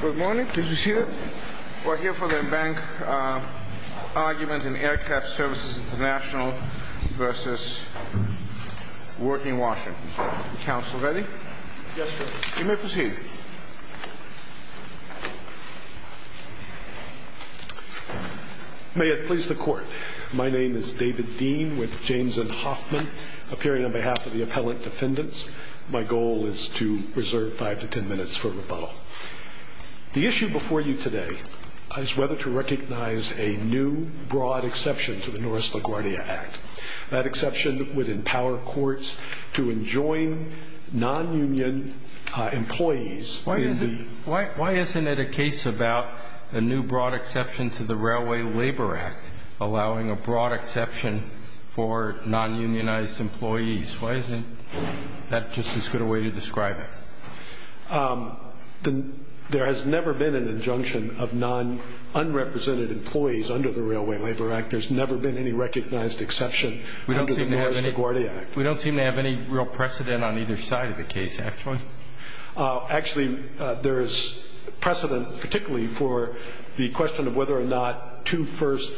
Good morning. Please be seated. We're here for the bank argument in Aircraft Services Int'l v. Working Washington. Counsel ready? Yes, sir. You may proceed. May it please the Court. My name is David Dean with James N. Hoffman, appearing on behalf of the appellant defendants. My goal is to reserve five to ten minutes for rebuttal. The issue before you today is whether to recognize a new, broad exception to the Norris-LaGuardia Act. That exception would empower courts to enjoin non-union employees in the Why isn't it a case about a new, broad exception to the Railway Labor Act allowing a broad exception for non-unionized employees? Why isn't that just as good a way to describe it? There has never been an injunction of non-unrepresented employees under the Railway Labor Act. There's never been any recognized exception under the Norris-LaGuardia Act. We don't seem to have any real precedent on either side of the case, actually. Actually, there is precedent, particularly for the question of whether or not two-first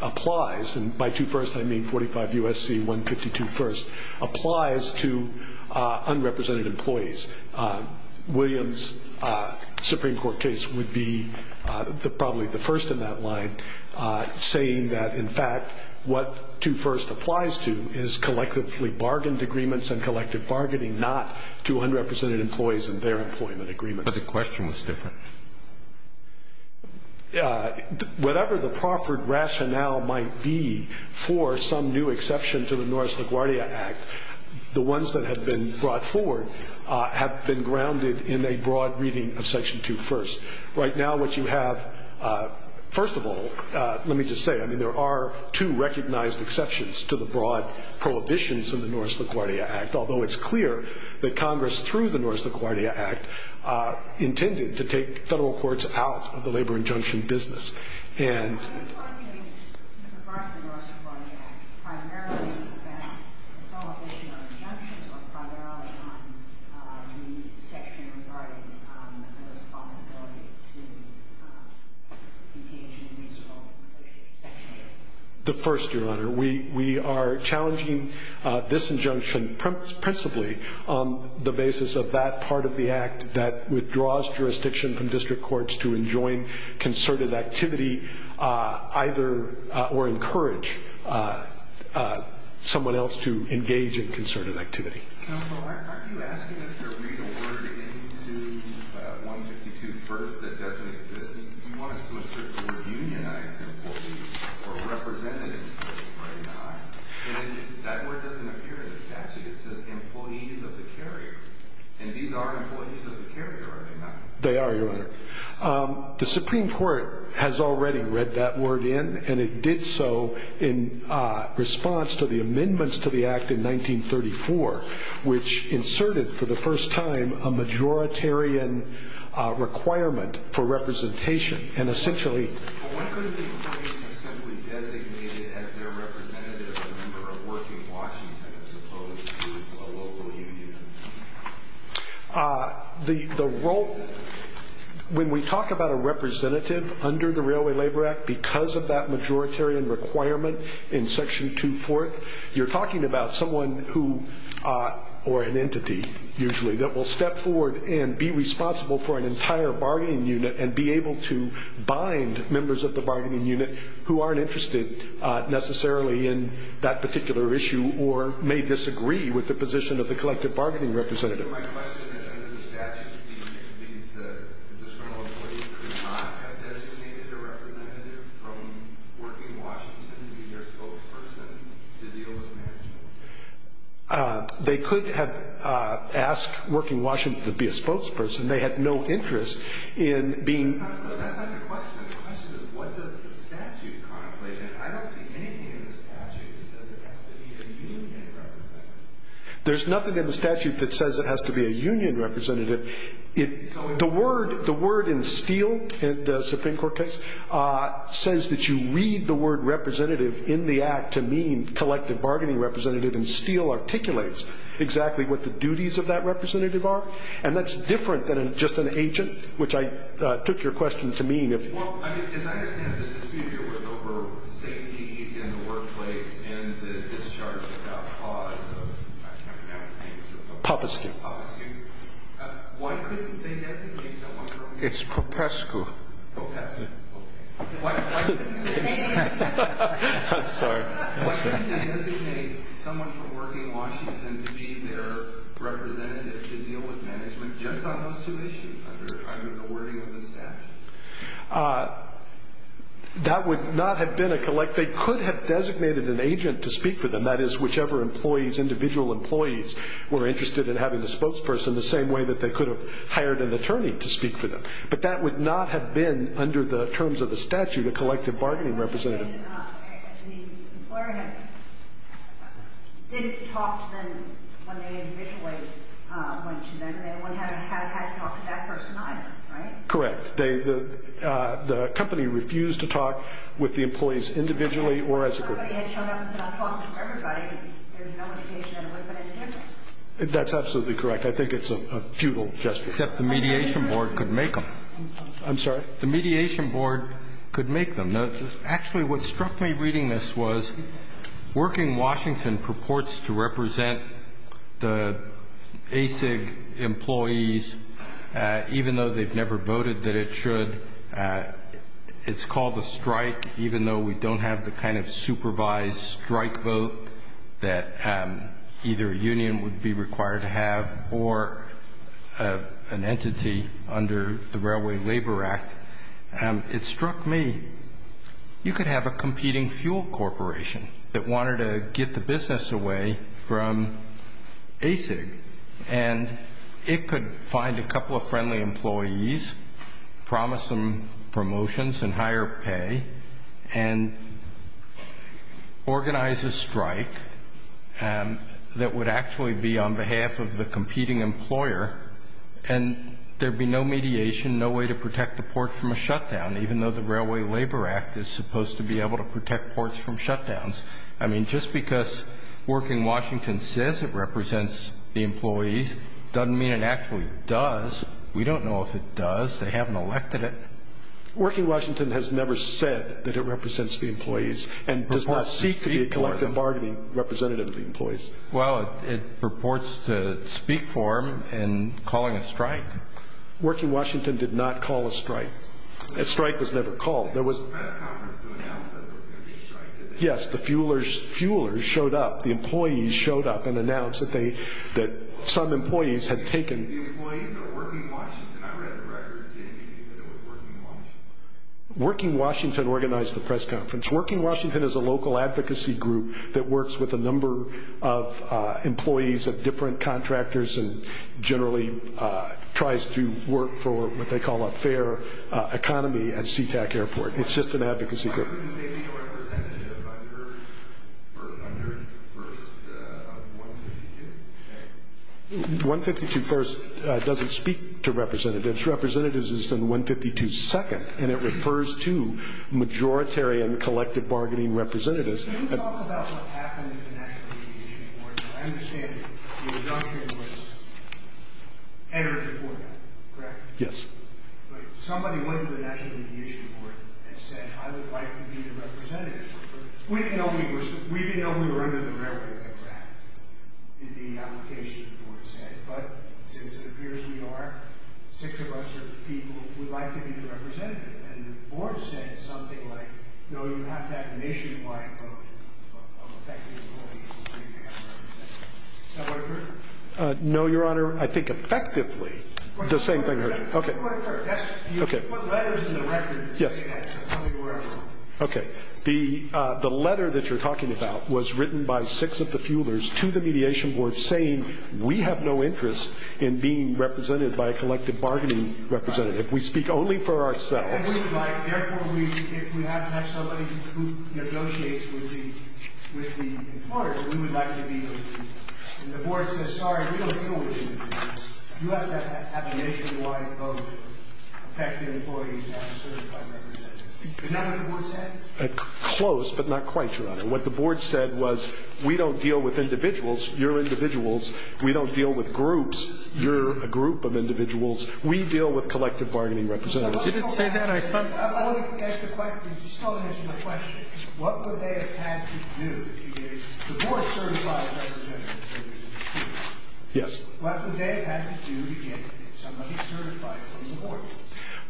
applies. And by two-first, I mean 45 U.S.C. 152 first applies to unrepresented employees. Williams' Supreme Court case would be probably the first in that line, saying that, in fact, what two-first applies to is collectively bargained agreements and collective bargaining, not to unrepresented employees and their employment agreements. But the question was different. Whatever the proper rationale might be for some new exception to the Norris-LaGuardia Act, the ones that have been brought forward have been grounded in a broad reading of Section 2.1. Right now, what you have, first of all, let me just say, I mean, there are two recognized exceptions to the broad prohibitions in the Norris-LaGuardia Act, although it's clear that Congress, through the Norris-LaGuardia Act, intended to take federal courts out of the labor injunction business. And the first, Your Honor, we are challenging this injunction primarily on the section regarding the responsibility to engage in reasonable negotiation with the section. The first, Your Honor, we are challenging this injunction principally on the basis of that part of the Act that withdraws jurisdiction from district courts to enjoin concerted activity, either or encourage someone else to engage in concerted activity. Counsel, aren't you asking us to read a word into 152 first that doesn't exist? You want us to insert the word unionized employees or representatives, right? And that word doesn't appear in the statute. It says employees of the carrier. And these are employees of the carrier, are they not? They are, Your Honor. The Supreme Court has already read that word in, and it did so in response to the amendments to the Act in 1934, which inserted for the first time a majoritarian requirement for representation. And essentially the role when we talk about a representative under the Railway Labor Act, because of that majoritarian requirement in Section 2-4, you're talking about someone who or an entity usually that will step forward and be responsible for an entire bargaining unit and be able to bind members of the bargaining unit who aren't interested necessarily in that particular issue or may disagree with the position of the collective bargaining representative. My question is under the statute, these discriminal employees could not have designated a representative from Working Washington to be their spokesperson to deal with management? They could have asked Working Washington to be a spokesperson. They had no interest in being – That's not the question. The question is what does the statute contemplate? And I don't see anything in the statute that says it has to be a union representative. There's nothing in the statute that says it has to be a union representative. The word in steel in the Supreme Court case says that you read the word representative in the Act to mean collective bargaining representative, and steel articulates exactly what the duties of that representative are. And that's different than just an agent, which I took your question to mean. Well, as I understand it, the dispute here was over safety in the workplace and the discharge without cause of – I can't pronounce the name. Popescu. Popescu. Why couldn't they designate someone from – It's Popescu. Popescu. Why couldn't they designate someone from Working Washington to be their representative to deal with management just on those two issues under the wording of the statute? That would not have been a – They could have designated an agent to speak for them, that is whichever employees, individual employees, were interested in having the spokesperson the same way that they could have hired an attorney to speak for them. But that would not have been, under the terms of the statute, a collective bargaining representative. The employer didn't talk to them when they initially went to them. They wouldn't have had to talk to that person either, right? Correct. The company refused to talk with the employees individually or as a group. Somebody had shown up and said, I'm talking to everybody, and there's no indication that it would have been any different. That's absolutely correct. I think it's a futile gesture. Except the mediation board could make them. I'm sorry? The mediation board could make them. Actually, what struck me reading this was, Working Washington purports to represent the ASIG employees, even though they've never voted that it should. It's called a strike, even though we don't have the kind of supervised strike vote that either a union would be required to have or an entity under the Railway Labor Act. It struck me, you could have a competing fuel corporation that wanted to get the business away from ASIG, and it could find a couple of friendly employees, promise them promotions and higher pay, and organize a strike that would actually be on behalf of the competing employer, and there would be no mediation, no way to protect the port from a shutdown, even though the Railway Labor Act is supposed to be able to protect ports from shutdowns. I mean, just because Working Washington says it represents the employees doesn't mean it actually does. We don't know if it does. They haven't elected it. Working Washington has never said that it represents the employees Well, it purports to speak for them in calling a strike. Working Washington did not call a strike. A strike was never called. There was a press conference to announce that there was going to be a strike. Yes, the fuelers showed up. The employees showed up and announced that some employees had taken The employees at Working Washington. I read the records and it was Working Washington. Working Washington organized the press conference. Working Washington is a local advocacy group that works with a number of employees of different contractors and generally tries to work for what they call a fair economy at Sea-Tac Airport. It's just an advocacy group. Why wouldn't they be representative under 152? 152 first doesn't speak to representatives. First representatives is on 152 second and it refers to majoritary and collective bargaining representatives. Can you talk about what happened to the National Media Issues Board? I understand the adoption was entered before that, correct? Yes. Somebody went to the National Media Issues Board and said I would like to be the representative. We didn't know we were under the railroad at that time. But since it appears we are, six of us are people who would like to be the representative. And the board said something like, no, you have to have a nationwide vote of effective employees. Is that what it referred to? No, Your Honor. I think effectively the same thing. Let me put it first. You put letters in the record that say that. That's probably where I'm wrong. Okay. The letter that you're talking about was written by six of the fuelers to the mediation board saying we have no interest in being represented by a collective bargaining representative. We speak only for ourselves. Therefore, if we have to have somebody who negotiates with the employers, we would like to be those people. And the board says, sorry, we don't deal with these individuals. You have to have a nationwide vote of effective employees to have a certified representative. Is that what the board said? Close, but not quite, Your Honor. What the board said was we don't deal with individuals. You're individuals. We don't deal with groups. You're a group of individuals. We deal with collective bargaining representatives. You didn't say that. I thought you said that. I wanted to ask a question. You still haven't answered my question. What would they have had to do to get the board certified representative? Yes. What would they have had to do to get somebody certified from the board?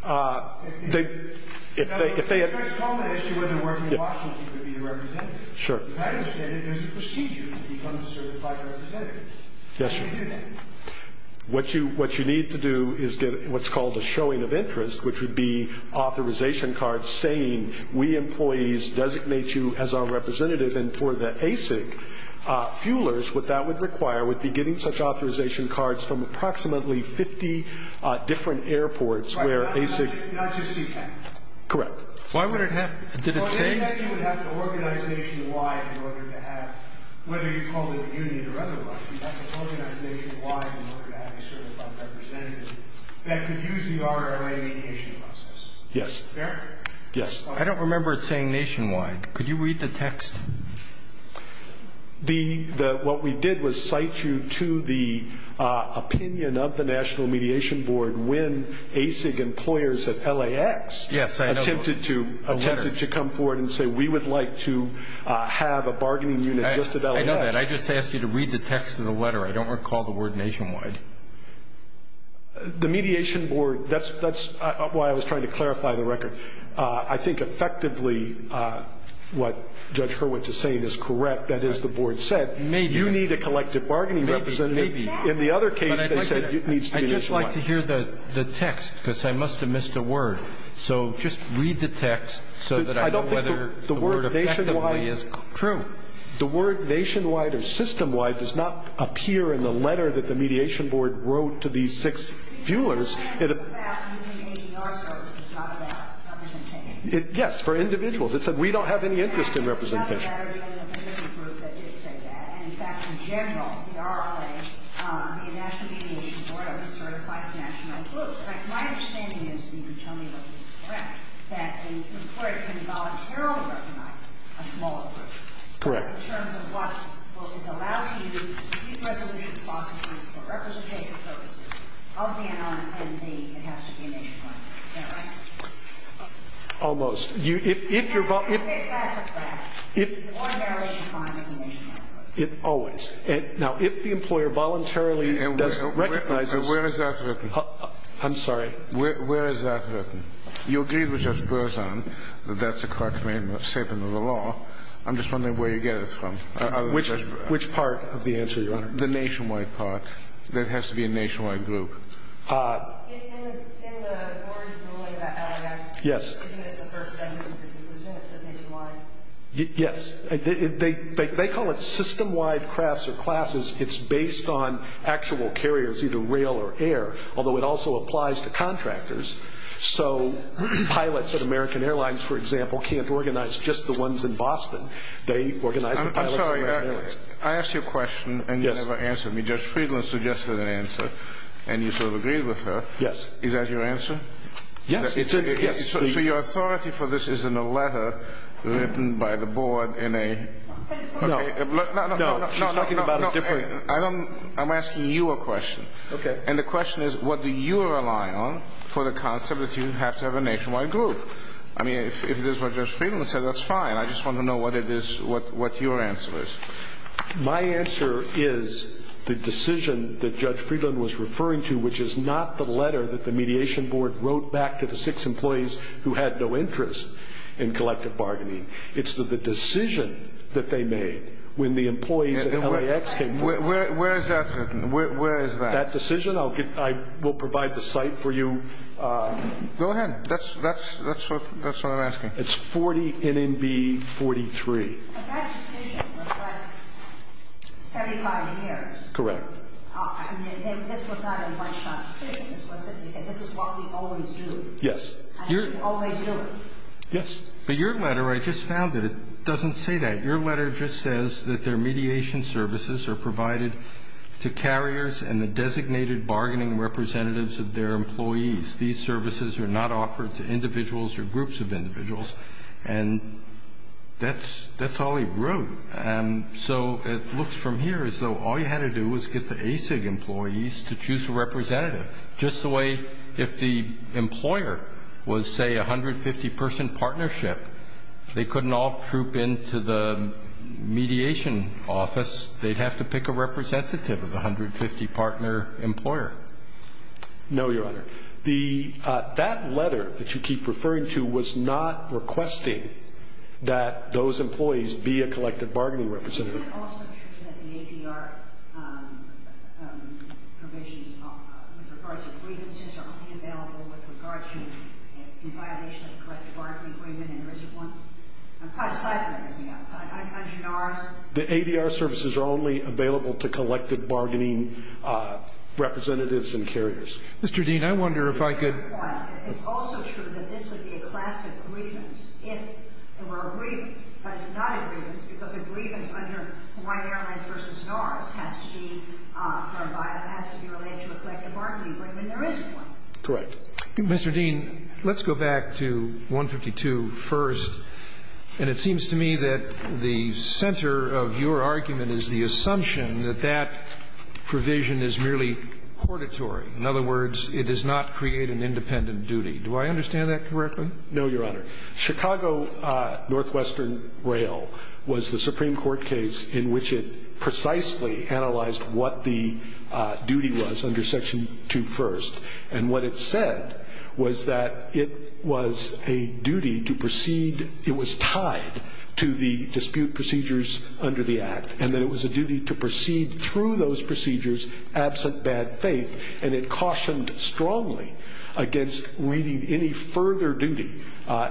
If they had to. If they had to. If that's a common issue where they're working in Washington to be a representative. Sure. As I understand it, there's a procedure to become a certified representative. Yes, Your Honor. How do you do that? What you need to do is get what's called a showing of interest, which would be authorization cards saying we employees designate you as our representative. And for the ACIG fuelers, what that would require would be getting such authorization cards from approximately 50 different airports where ACIG. Right. Not just CK. Correct. Why would it have to? Did it say? It would have to organize nationwide in order to have, whether you call it a union or otherwise, you'd have to organize nationwide in order to have a certified representative that could use the RRA mediation process. Fair? Yes. I don't remember it saying nationwide. Could you read the text? What we did was cite you to the opinion of the National Mediation Board when ACIG employers at LAX attempted to come forward and say we would like to have a bargaining unit just at LAX. I know that. I just asked you to read the text of the letter. I don't recall the word nationwide. The Mediation Board, that's why I was trying to clarify the record. I think effectively what Judge Hurwitz is saying is correct. That is, the Board said you need a collective bargaining representative. Maybe. In the other case, they said it needs to be nationwide. I'd just like to hear the text because I must have missed a word. So just read the text so that I know whether the word effectively is true. I don't think the word nationwide or systemwide does not appear in the letter that the Mediation Board wrote to these six fuelers. Yes, for individuals. It said we don't have any interest in representation. Correct. Almost. Now, if the employer voluntarily does recognize this. Where is that written? I'm sorry. Where is that written? Your deed was just burson. That's a correct statement of the law. I'm just wondering where you get it. I'm sorry. I'm just wondering where you get it. Which part of the answer, Your Honor? The nationwide part. That has to be a nationwide group. Yes. Yes. They call it systemwide crafts or classes. It's based on actual carriers, either rail or air, although it also applies to contractors. So pilots at American Airlines, for example, can't organize just the ones in Boston. They organize the pilots at American Airlines. I'm sorry. I asked you a question, and you never answered me. Judge Friedland suggested an answer, and you sort of agreed with her. Yes. Is that your answer? Yes. So your authority for this is in a letter written by the board in a... No. No, no, no. She's talking about it differently. I'm asking you a question. Okay. And the question is, what do you rely on for the concept that you have to have a nationwide group? I mean, if this is what Judge Friedland said, that's fine. I just want to know what your answer is. My answer is the decision that Judge Friedland was referring to, which is not the letter that the mediation board wrote back to the six employees who had no interest in collective bargaining. It's the decision that they made when the employees at LAX came to us. Where is that written? Where is that? That decision? I will provide the site for you. Go ahead. That's what I'm asking. It's 40 NMB 43. But that decision was last 35 years. Correct. I mean, this was not a one-shot decision. This was simply said, this is what we always do. Yes. And we always do it. Yes. But your letter, I just found it, it doesn't say that. Your letter just says that their mediation services are provided to carriers and the designated bargaining representatives of their employees. These services are not offered to individuals or groups of individuals. And that's all he wrote. So it looks from here as though all you had to do was get the ASIG employees to choose a representative. Just the way if the employer was, say, a 150-person partnership, they couldn't all troop into the mediation office. They'd have to pick a representative of the 150-partner employer. No, Your Honor. That letter that you keep referring to was not requesting that those employees be a collective bargaining representative. Is it also true that the ADR provisions with regards to grievances are only available with regards to in violation of the collective bargaining agreement and there isn't one? I'm quite excited about everything else. I'm not a congenarist. The ADR services are only available to collective bargaining representatives and carriers. Mr. Dean, I wonder if I could ---- It's also true that this would be a class of grievance if there were a grievance. But it's not a grievance because a grievance under Hawaii Airlines v. NARS has to be from by a ---- has to be related to a collective bargaining agreement and there isn't one. Correct. Mr. Dean, let's go back to 152 first. And it seems to me that the center of your argument is the assumption that that provision is merely cordatory. In other words, it does not create an independent duty. Do I understand that correctly? No, Your Honor. Chicago Northwestern Rail was the Supreme Court case in which it precisely analyzed what the duty was under Section 21st. And what it said was that it was a duty to proceed ---- it was tied to the dispute absent bad faith. And it cautioned strongly against reading any further duty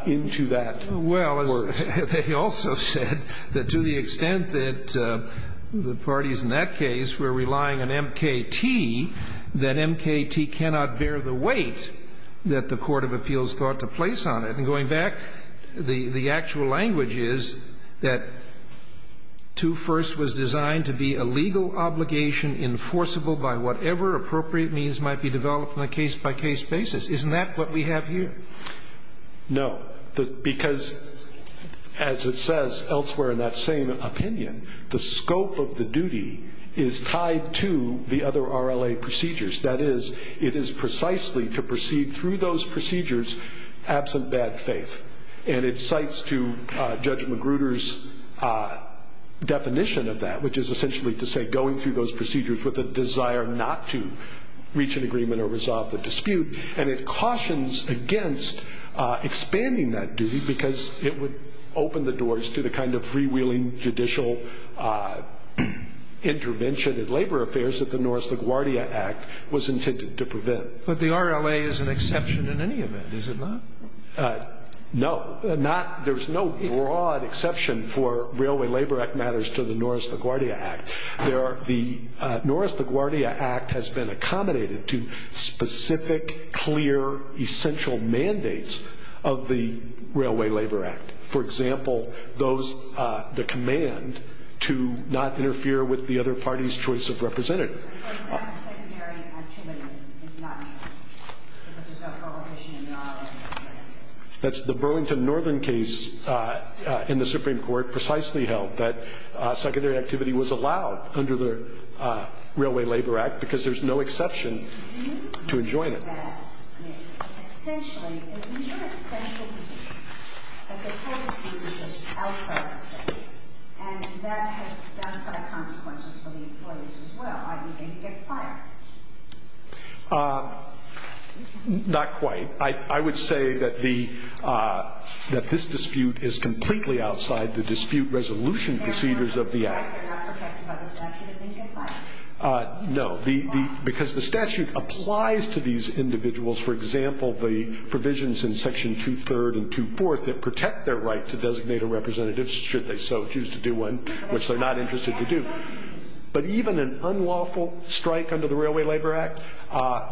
into that. Well, they also said that to the extent that the parties in that case were relying on M.K.T., that M.K.T. cannot bear the weight that the Court of Appeals thought to place on it. And going back, the actual language is that 21st was designed to be a legal obligation enforceable by whatever appropriate means might be developed on a case-by-case basis. Isn't that what we have here? No. Because, as it says elsewhere in that same opinion, the scope of the duty is tied to the other RLA procedures. That is, it is precisely to proceed through those procedures absent bad faith. And it cites to Judge Magruder's definition of that, which is essentially to say going through those procedures with a desire not to reach an agreement or resolve the dispute. And it cautions against expanding that duty because it would open the doors to the kind of But the RLA is an exception in any event, is it not? No. There's no broad exception for Railway Labor Act matters to the Norris LaGuardia Act. The Norris LaGuardia Act has been accommodated to specific, clear, essential mandates of the Railway Labor Act. For example, the command to not interfere with the other party's choice of representative. For example, secondary activity is not allowed because there's no prohibition in the RLA. That's the Burlington Northern case in the Supreme Court precisely held that secondary activity was allowed under the Railway Labor Act because there's no exception to enjoin it. Essentially, these are essential positions. But this whole dispute is just outside the scope. And that has downside consequences for the employees as well. I mean, they can get fired. Not quite. I would say that this dispute is completely outside the dispute resolution procedures of the act. They're not protected by the statute. They can't get fired. No. Why? Because the statute applies to these individuals. For example, the provisions in Section 23rd and 24th that protect their right to designate a representative should they so choose to do one, which they're not interested to do. But even an unlawful strike under the Railway Labor Act,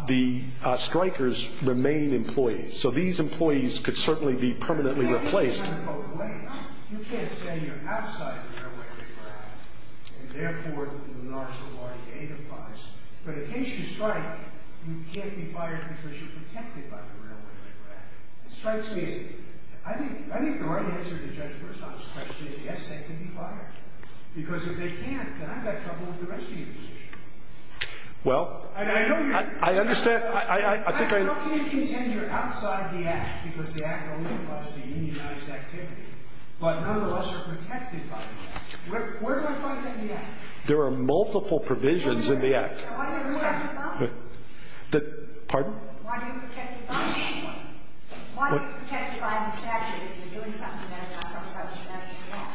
the strikers remain employees. So these employees could certainly be permanently replaced. You can't say you're outside the Railway Labor Act and, therefore, the NARSA or the ADA applies. But in case you strike, you can't be fired because you're protected by the Railway Labor Act. It strikes me as I think the right answer to Judge Burton's question is yes, they can be fired. Because if they can't, then I've got trouble with the rest of you. Well, I understand. I think I am. How can you contend you're outside the act because the act only allows the unionized activity, but none of us are protected by the act? Where do I find that in the act? There are multiple provisions in the act. Why do you have to fire anyone? Pardon? Why do you have to fire anyone? Why are you protected by the statute if you're doing something that's not part of the statute at all?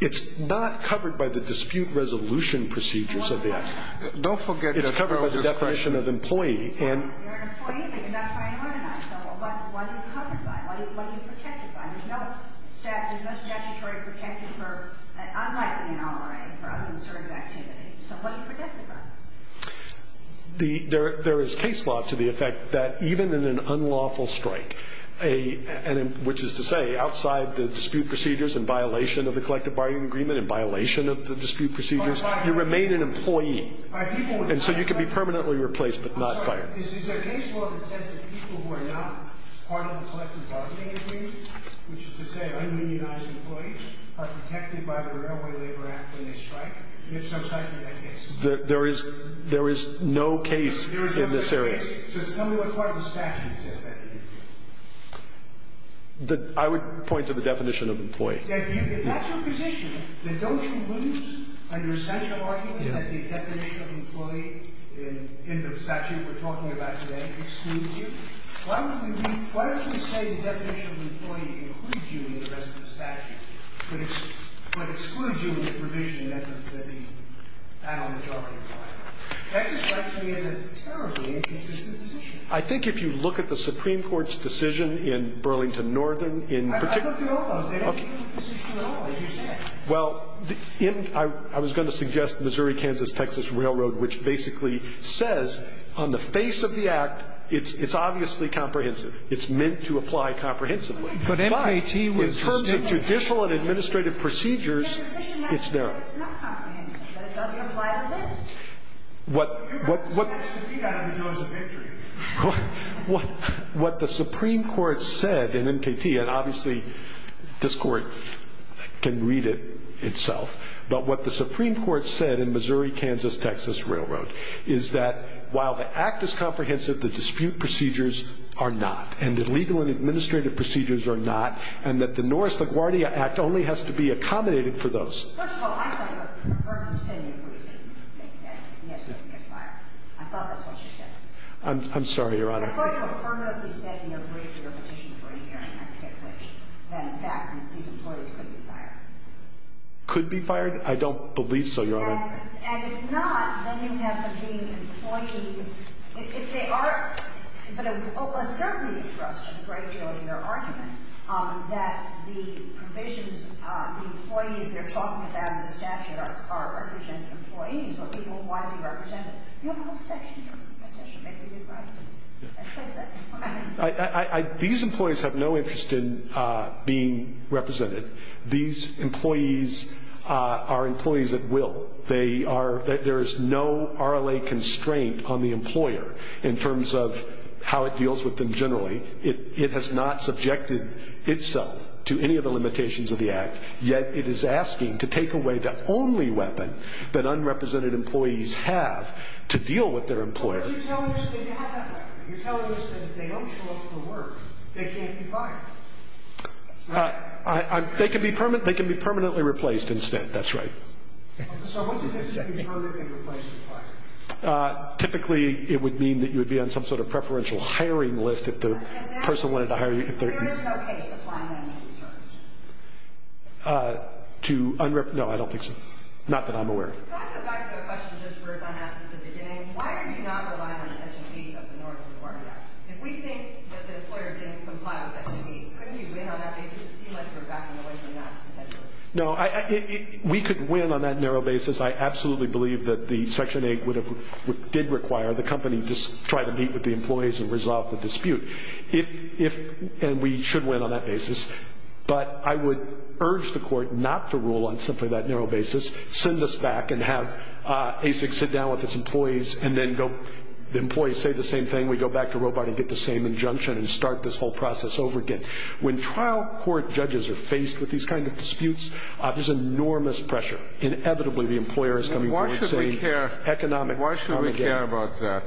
It's not covered by the dispute resolution procedures of the act. Don't forget your closure question. It's covered by the definition of employee. You're an employee, but you're not firing one of us. So what are you covered by? What are you protected by? There's no statutory protection for unlawful and unauthorized or unassertive activity. So what are you protected by? There is case law to the effect that even in an unlawful strike, which is to say outside the dispute procedures in violation of the collective bargaining agreement and violation of the dispute procedures, you remain an employee. And so you can be permanently replaced but not fired. Is there case law that says that people who are not part of the collective bargaining agreement, which is to say ununionized employees, are protected by the Railway Labor Act when they strike? If so, cite me that case. There is no case in this area. There is no case. Just tell me what part of the statute says that to you. I would point to the definition of employee. If that's your position, then don't you lose on your essential argument that the definition of employee in the statute we're talking about today excludes you? Why would we say the definition of employee includes you in the rest of the statute but excludes you in the provision that I'm talking about? Texas right to me is a terribly inconsistent position. I think if you look at the Supreme Court's decision in Burlington Northern in particular. I looked at all those. They don't have any position at all, as you said. Well, I was going to suggest Missouri-Kansas-Texas Railroad, which basically says on the face of the act it's obviously comprehensive. It's meant to apply comprehensively. But in terms of judicial and administrative procedures, it's narrow. It's not comprehensive. It doesn't apply to this. What the Supreme Court said in MKT, and obviously this Court can read it itself, but what the Supreme Court said in Missouri-Kansas-Texas Railroad is that while the act is comprehensive, the dispute procedures are not, and the legal and administrative procedures are not, and that the Norris-LaGuardia Act only has to be accommodated for those. First of all, I thought you said in your briefing that yes, you can get fired. I thought that's what you said. I'm sorry, Your Honor. I thought you affirmatively said in your briefing or petition for your hearing that in fact these employees could be fired. Could be fired? I don't believe so, Your Honor. And if not, then you have them being employees. If they are, but a certain interest in a great deal of your argument that the provisions of the employees they're talking about in the statute are represented as employees or people who want to be represented. You have a whole section in your petition. Maybe you could write it. That's what I said. I, I, I, these employees have no interest in being represented. These employees are employees at will. They are, there is no RLA constraint on the employer in terms of how it deals with them generally. It, it has not subjected itself to any of the limitations of the act, yet it is asking to take away the only weapon that unrepresented employees have to deal with their employer. But you're telling us they have that weapon. You're telling us that if they don't show up for work, they can't be fired. I, I, they can be permanent. They can be permanently replaced instead. That's right. Typically it would mean that you would be on some sort of preferential hiring list. If the person wanted to hire you. To no, I don't think so. Not that I'm aware. No, I, I, we could win on that narrow basis. I absolutely believe that the Section 8 would have, did require the company to try to meet with the employees and resolve the dispute. If, if, and we should win on that basis. But I would urge the court not to rule on simply that narrow basis. Send us back and have ASIC sit down with its employees and then go, the employees say the same thing. And then we go back to Robart and get the same injunction and start this whole process over again. When trial court judges are faced with these kind of disputes, there's enormous pressure. Inevitably the employer is going to say economic. Why should we care about that?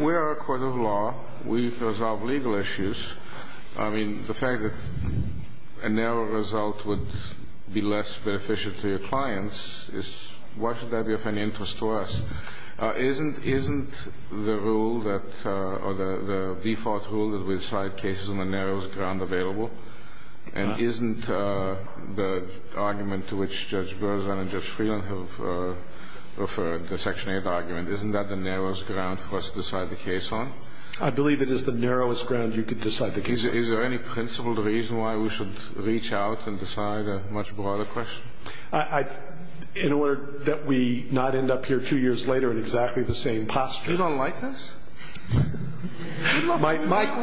We are a court of law. We resolve legal issues. I mean, the fact that a narrow result would be less beneficial to your clients is, why should that be of any interest to us? Isn't, isn't the rule that, or the default rule that we decide cases on the narrowest ground available? And isn't the argument to which Judge Berzin and Judge Freeland have referred, the Section 8 argument, isn't that the narrowest ground for us to decide the case on? I believe it is the narrowest ground you could decide the case on. Is there any principled reason why we should reach out and decide a much broader question? I, I, in order that we not end up here two years later in exactly the same posture. You don't like this? My, my, my,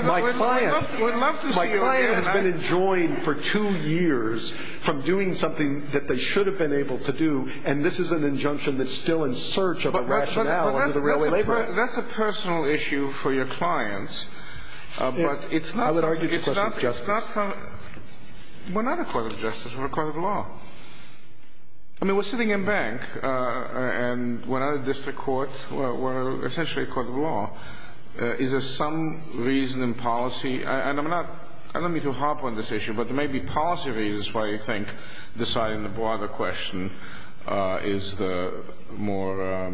my client. We'd love to see you again. My client has been enjoined for two years from doing something that they should have been able to do, and this is an injunction that's still in search of a rationale under the Railway Labor Act. That's a personal issue for your clients. I would argue it's a question of justice. We're not a court of justice. We're a court of law. I mean, we're sitting in bank, and we're not a district court. We're essentially a court of law. Is there some reason in policy, and I'm not, I don't mean to harp on this issue, but there may be policy reasons why you think deciding the broader question is the more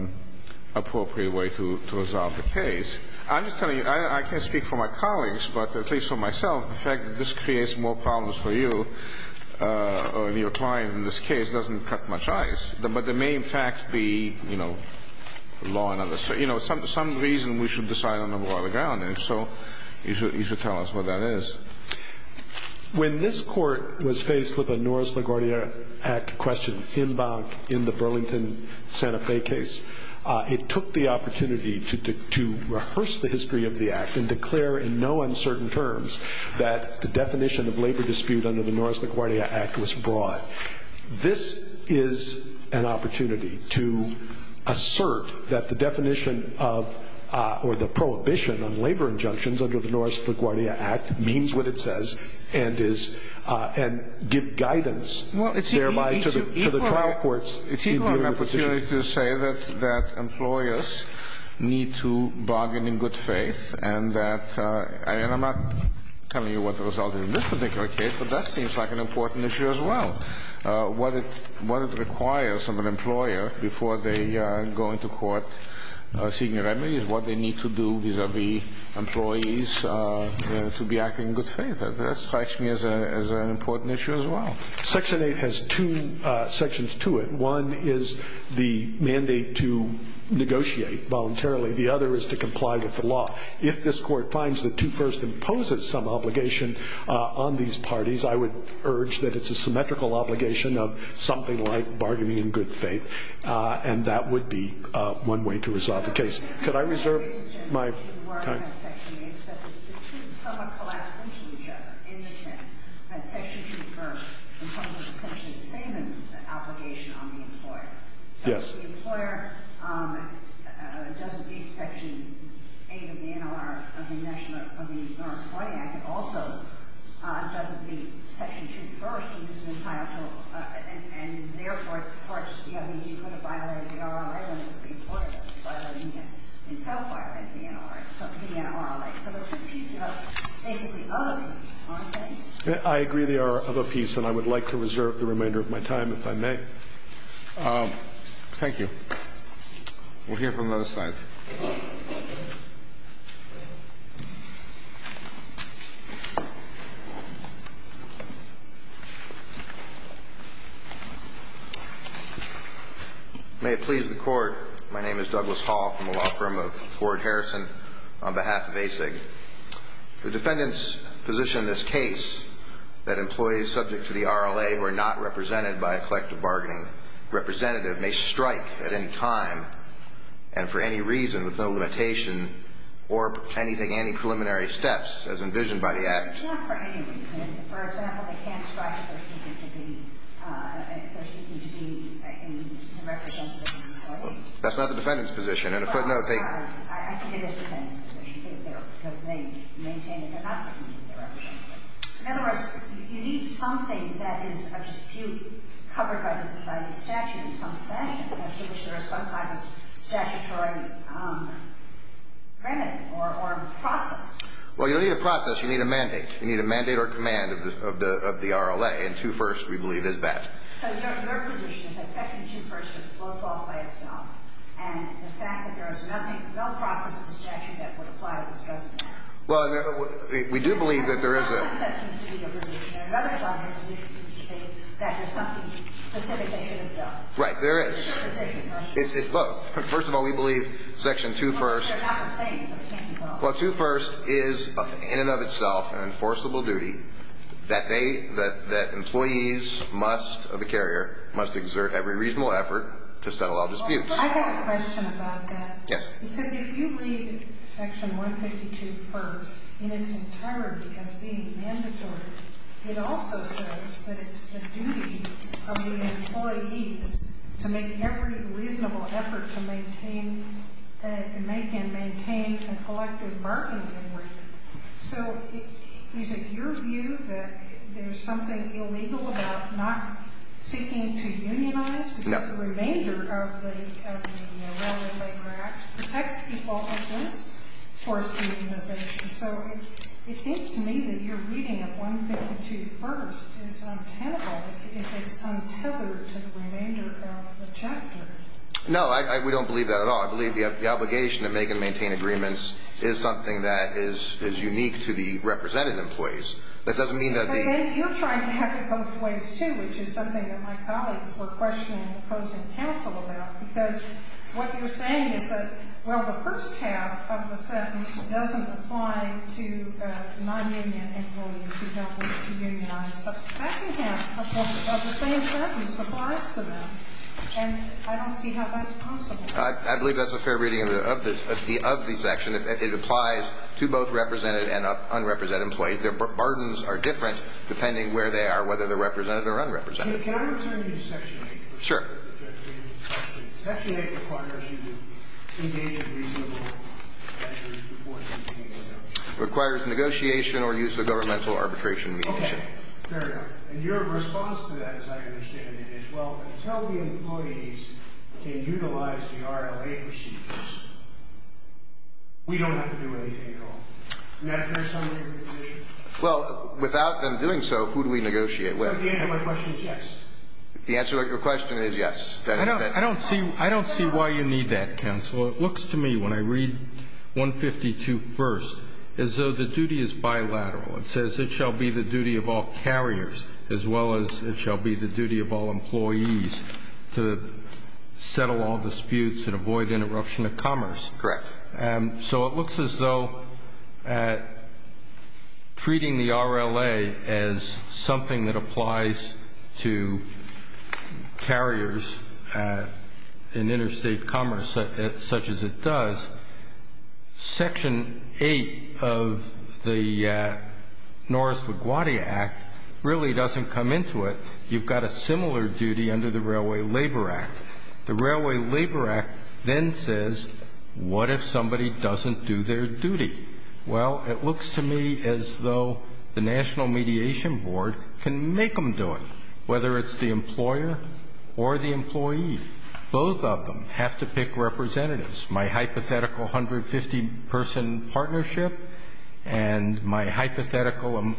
appropriate way to, to resolve the case. I'm just telling you, I can't speak for my colleagues, but at least for myself, the fact that this creates more problems for you or your client in this case doesn't cut much ice. But there may, in fact, be, you know, law and other, you know, some reason we should decide on the broader ground, and so you should tell us what that is. When this court was faced with a Norris LaGuardia Act question in bank in the Burlington Santa Fe case, it took the opportunity to rehearse the history of the Act and declare in no uncertain terms that the definition of labor dispute under the Norris LaGuardia Act was broad. This is an opportunity to assert that the definition of, or the prohibition on labor injunctions under the Norris LaGuardia Act means what it says and is, and give guidance thereby to the trial courts. It's equal opportunity to say that employers need to bargain in good faith and that, and I'm not telling you what the result is in this particular case, but that seems like an important issue as well. What it requires of an employer before they go into court seeking a remedy is what they need to do vis-à-vis employees to be acting in good faith. That strikes me as an important issue as well. Section 8 has two sections to it. One is the mandate to negotiate voluntarily. The other is to comply with the law. If this court finds that two-first imposes some obligation on these parties, I would urge that it's a symmetrical obligation of something like bargaining in good faith, and that would be one way to resolve the case. Could I reserve my time? Yes. I agree there are other pieces, and I would like to reserve the remainder of my time, if I may. Thank you. We'll hear from the other side. May it please the Court. My name is Douglas Hall. I'm a law firm of Ford Harrison on behalf of ASIG. The defendants position in this case that employees subject to the RLA who are not represented by a collective bargaining representative may strike at any time and for any reason with no limitation or anything anti-preliminary steps as envisioned by the Act. It's not for any reason. For example, they can't strike if they're seeking to be in the representative of an employee. That's not the defendant's position. On a footnote, they – I think it is the defendant's position because they maintain that they're not seeking to be represented. In other words, you need something that is a dispute covered by the statute in some fashion as to which there is some kind of statutory remedy or process. You'll need a mandate. You need a mandate or command of the RLA. And 2 First, we believe, is that. So their position is that Section 2 First just floats off by itself. And the fact that there is nothing – no process of the statute that would apply to this judgment. Well, we do believe that there is a – There's no consensus to your position. There are other side positions in this case that there's something specific they should have done. Right. There is. It's both. First of all, we believe Section 2 First – Well, they're not the same, so it can't be both. Well, 2 First is in and of itself an enforceable duty that they – that employees must – of a carrier must exert every reasonable effort to settle all disputes. I have a question about that. Yes. Because if you read Section 152 First in its entirety as being mandatory, it also says that it's the duty of the employees to make every reasonable effort to maintain – make and maintain a collective bargaining agreement. So is it your view that there's something illegal about not seeking to unionize? No. Because the remainder of the – of the Warren-Lake Act protects people against forced unionization. So it seems to me that your reading of 152 First is untenable if it's untethered to the remainder of the chapter. No. We don't believe that at all. I believe the obligation to make and maintain agreements is something that is unique to the represented employees. That doesn't mean that the – But then you're trying to have it both ways, too, which is something that my colleagues were questioning opposing counsel about. Because what you're saying is that, well, the first half of the sentence doesn't apply to non-union employees who don't wish to unionize, but the second half of the same sentence applies to them. And I don't see how that's possible. I believe that's a fair reading of the – of the section. It applies to both represented and unrepresented employees. Their burdens are different depending where they are, whether they're represented or unrepresented. Okay. Can I return you to Section 8? Sure. Section 8 requires you to engage in reasonable measures before seeking to negotiate. Requires negotiation or use of governmental arbitration means. Okay. Fair enough. And your response to that, as I understand it, is, well, until the employees can utilize the RLA procedures, we don't have to do anything at all. And that fairs some degree of the position? Well, without them doing so, who do we negotiate with? So the answer to my question is yes. The answer to your question is yes. I don't see – I don't see why you need that, counsel. It looks to me, when I read 152 first, as though the duty is bilateral. It says it shall be the duty of all carriers as well as it shall be the duty of all employees to settle all disputes and avoid interruption of commerce. Correct. So it looks as though treating the RLA as something that applies to carriers in interstate commerce such as it does. Section 8 of the Norris-LaGuardia Act really doesn't come into it. You've got a similar duty under the Railway Labor Act. The Railway Labor Act then says, what if somebody doesn't do their duty? Well, it looks to me as though the National Mediation Board can make them do it, whether it's the employer or the employee. Both of them have to pick representatives. My hypothetical 150-person partnership and my hypothetical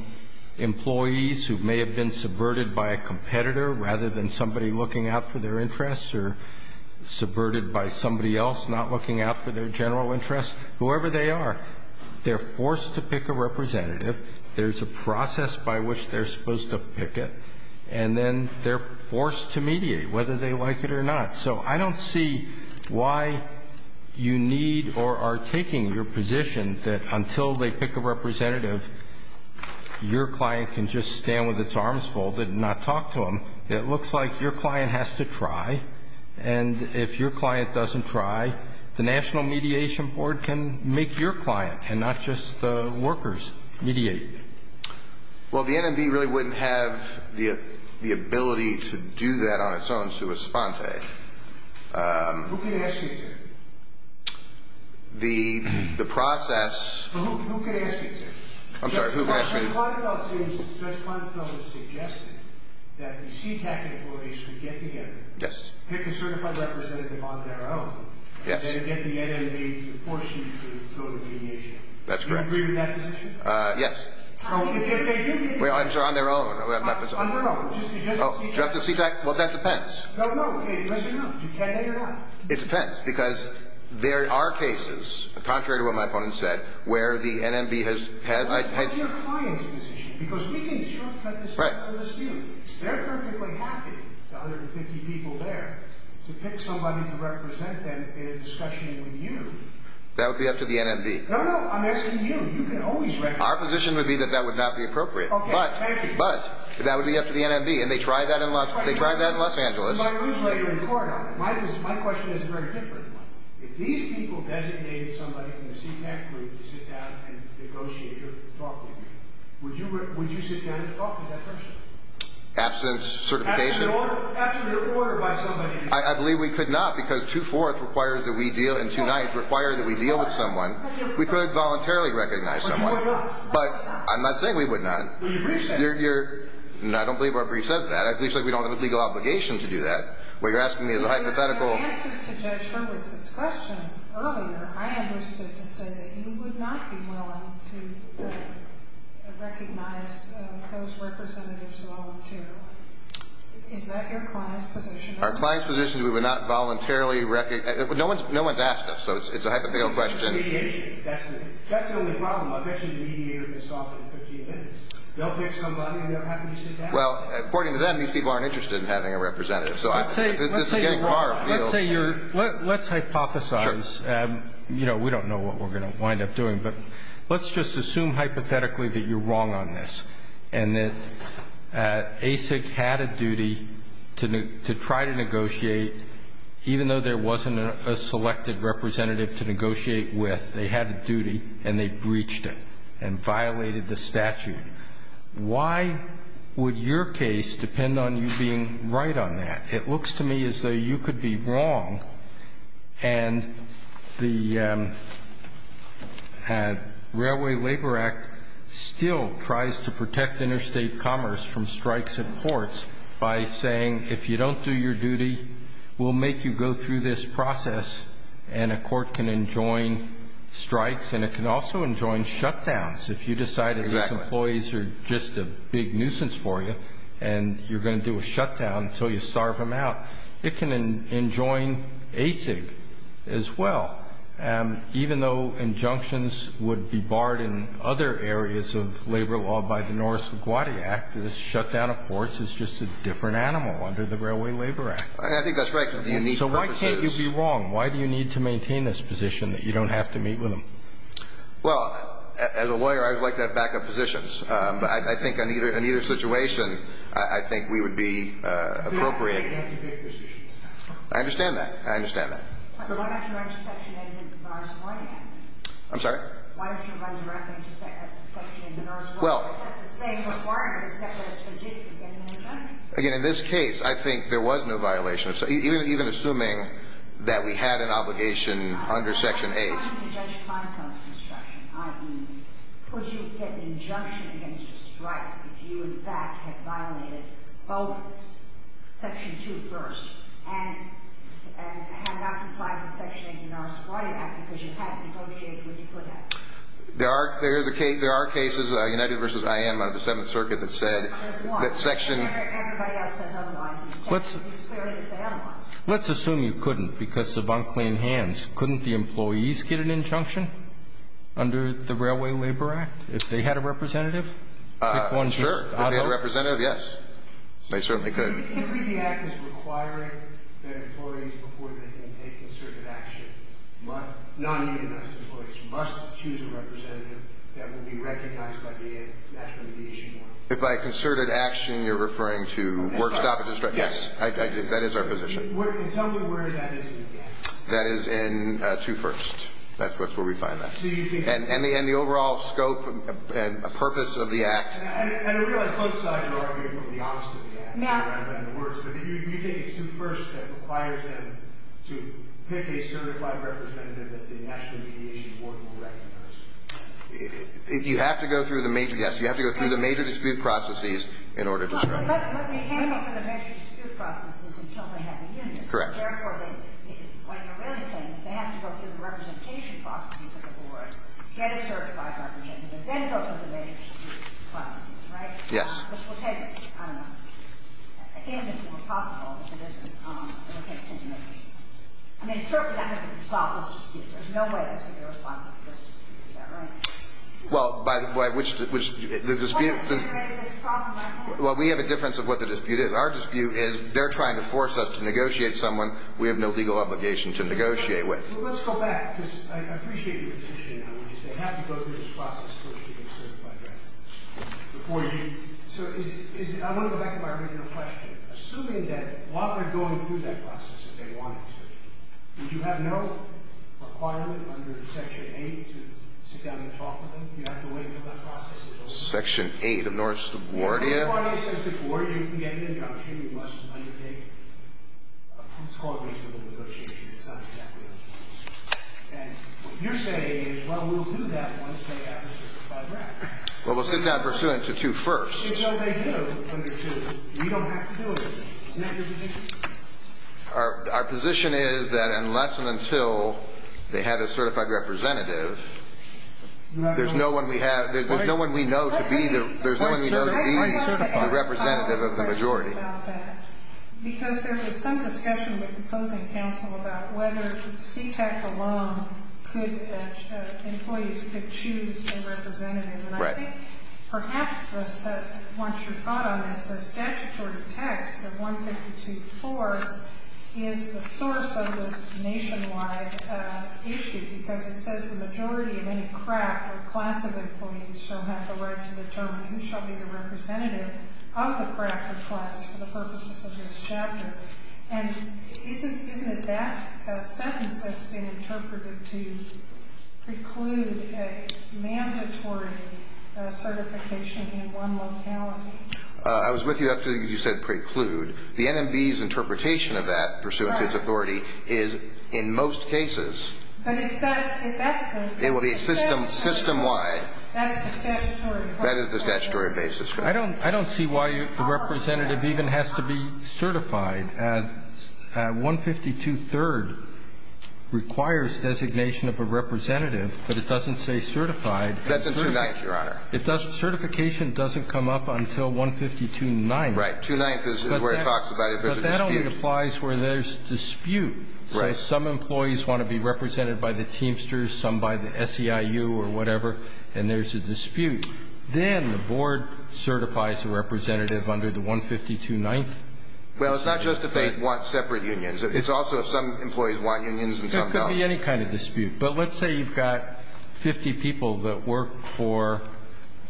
employees who may have been subverted by a competitor rather than somebody looking out for their interests or subverted by somebody else not looking out for their general interests, whoever they are, they're forced to pick a representative. There's a process by which they're supposed to pick it, and then they're forced to mediate whether they like it or not. So I don't see why you need or are taking your position that until they pick a representative, your client can just stand with its arms folded and not talk to them. It looks like your client has to try, and if your client doesn't try, the National Mediation Board has to mediate. Well, the NMB really wouldn't have the ability to do that on its own, sui sponte. Who can ask you to? The process... Who can ask you to? I'm sorry, who can ask me to? Judge Quantifield says, Judge Quantifield has suggested that the CTAC employees should get together... Yes. ...pick a certified representative on their own... Yes. ...and get the NMB to force you to go to mediation. That's correct. Do you agree with that position? Yes. So if they do mediate... Well, on their own. On their own. Just the CTAC. Just the CTAC? Well, that depends. No, no. It doesn't matter. It depends because there are cases, contrary to what my opponent said, where the NMB has... That's your client's position because we can shortcut this problem to students. They're perfectly happy, the other 50 people there, to pick somebody to represent them in a discussion with you. That would be up to the NMB. No, no. I'm asking you. You can always... Our position would be that that would not be appropriate. Okay. Thank you. But that would be up to the NMB, and they tried that in Los Angeles. My question is very different. If these people designated somebody from the CTAC group to sit down and negotiate or talk with you, would you sit down and talk with that person? Absent certification? Absent an order by somebody. I believe we could not because 2-4th requires that we deal, and 2-9th requires that we deal with someone. We could voluntarily recognize someone. But I'm not saying we would not. Your brief says... I don't believe our brief says that. At least we don't have a legal obligation to do that. What you're asking me is a hypothetical... In your answer to Judge Hurwitz's question earlier, I understood to say that you would not be willing to recognize those representatives voluntarily. Is that your client's position? Our client's position is we would not voluntarily recognize them. No one has asked us, so it's a hypothetical question. It's a mediation. That's the only problem. I bet you the mediator can solve it in 15 minutes. They'll pick somebody, and they'll have them sit down. Well, according to them, these people aren't interested in having a representative, so this is getting far afield. Let's say you're wrong. Let's hypothesize. Sure. You know, we don't know what we're going to wind up doing, but let's just assume hypothetically that you're wrong on this and that ASIC had a duty to try to negotiate even though there wasn't a selected representative to negotiate with. They had a duty, and they breached it and violated the statute. Why would your case depend on you being right on that? It looks to me as though you could be wrong. And the Railway Labor Act still tries to protect interstate commerce from strikes at ports by saying if you don't do your duty, we'll make you go through this process, and a court can enjoin strikes, and it can also enjoin shutdowns. If you decide that these employees are just a big nuisance for you, and you're going to do a shutdown until you starve them out, it can enjoin ASIC as well. Even though injunctions would be barred in other areas of labor law by the Norris LaGuardia Act, this shutdown of ports is just a different animal under the Railway Labor Act. I think that's right. So why can't you be wrong? Why do you need to maintain this position that you don't have to meet with them? Well, as a lawyer, I would like to have backup positions. I think in either situation, I think we would be appropriate. I understand that. I understand that. So why don't you run to Section 8 of the Norris LaGuardia Act? I'm sorry? Why don't you run directly to Section 8 of the Norris LaGuardia Act? Well. It has the same requirement except that it's forgiven against an injunction. Again, in this case, I think there was no violation, even assuming that we had an obligation under Section 8. Why can't you judge time-frames construction, i.e., would you get an injunction against a strike if you, in fact, had violated both Section 2 first and had not complied with Section 8 of the Norris LaGuardia Act because you hadn't negotiated what you could have? There are cases, United v. IM out of the Seventh Circuit, that said that Section... Everybody else has otherwise. He was clearly going to say otherwise. Let's assume you couldn't because of unclean hands. Couldn't the employees get an injunction under the Railway Labor Act if they had a representative? If they had a representative, yes. They certainly could. If the act is requiring that employees before they can take concerted action, non-EMS employees must choose a representative that will be recognized by the National Mediation Board. If by concerted action you're referring to work, stop, and destroy... Yes. That is our position. And tell me where that is in the act. That is in 2 first. That's where we find that. So you think... And the overall scope and purpose of the act... And I realize both sides are arguing for the honesty of the act. Now. But do you think it's 2 first that requires them to pick a certified representative that the National Mediation Board will recognize? You have to go through the major... Yes. You have to go through the major dispute processes in order to... What we handle for the major dispute processes until they have a union... Correct. Therefore, what you're really saying is they have to go through the representation processes of the board, get a certified representative, then go through the major dispute processes, right? Yes. Which will take... I don't know... Again, it's impossible if it isn't... I mean, certainly that doesn't solve this dispute. There's no way that's going to be a responsible dispute. Is that right? Well, by which... Well, that's what generated this problem, I hope. Well, we have a difference of what the dispute is. Our dispute is they're trying to force us to negotiate someone we have no legal obligation to negotiate with. Well, let's go back, because I appreciate your position on this. They have to go through this process first to get a certified representative. Before you... So is... I want to go back to my original question. Assuming that while they're going through that process, if they wanted to, did you have no requirement under Section 8 to sit down and talk with them? Do you have to wait for that process to go through? Section 8 of North Subordia... North Subordia says before you can get an injunction. You must undertake what's called reasonable negotiation. It's not exactly... And what you're saying is, well, we'll do that once they have a certified representative. Well, we'll sit down pursuant to 2 first. It's what they do under 2. You don't have to do it. Isn't that your position? Our position is that unless and until they have a certified representative... There's no one we have. There's no one we know to be... There's no one we know to be... The representative of the majority. I have a question about that. Because there was some discussion with the opposing counsel about whether CTEC alone could... Employees could choose a representative. And I think perhaps once you've thought on this, the statutory text of 152.4 is the source of this nationwide issue. Because it says the majority of any craft or class of employees shall have the right to determine who shall be the representative of the craft or class for the purposes of this chapter. And isn't it that sentence that's been interpreted to preclude a mandatory certification in one locality? I was with you after you said preclude. The NMB's interpretation of that pursuant to its authority is in most cases. But if that's the case. It will be system-wide. That's the statutory. That is the statutory basis. I don't see why the representative even has to be certified. 152.3 requires designation of a representative, but it doesn't say certified. That's in 2.9, Your Honor. Certification doesn't come up until 152.9. Right. 2.9 is where it talks about if there's a dispute. But that only applies where there's dispute. Right. So if some employees want to be represented by the Teamsters, some by the SEIU or whatever, and there's a dispute, then the board certifies a representative under the 152.9. Well, it's not just if they want separate unions. It's also if some employees want unions and some don't. There could be any kind of dispute. But let's say you've got 50 people that work for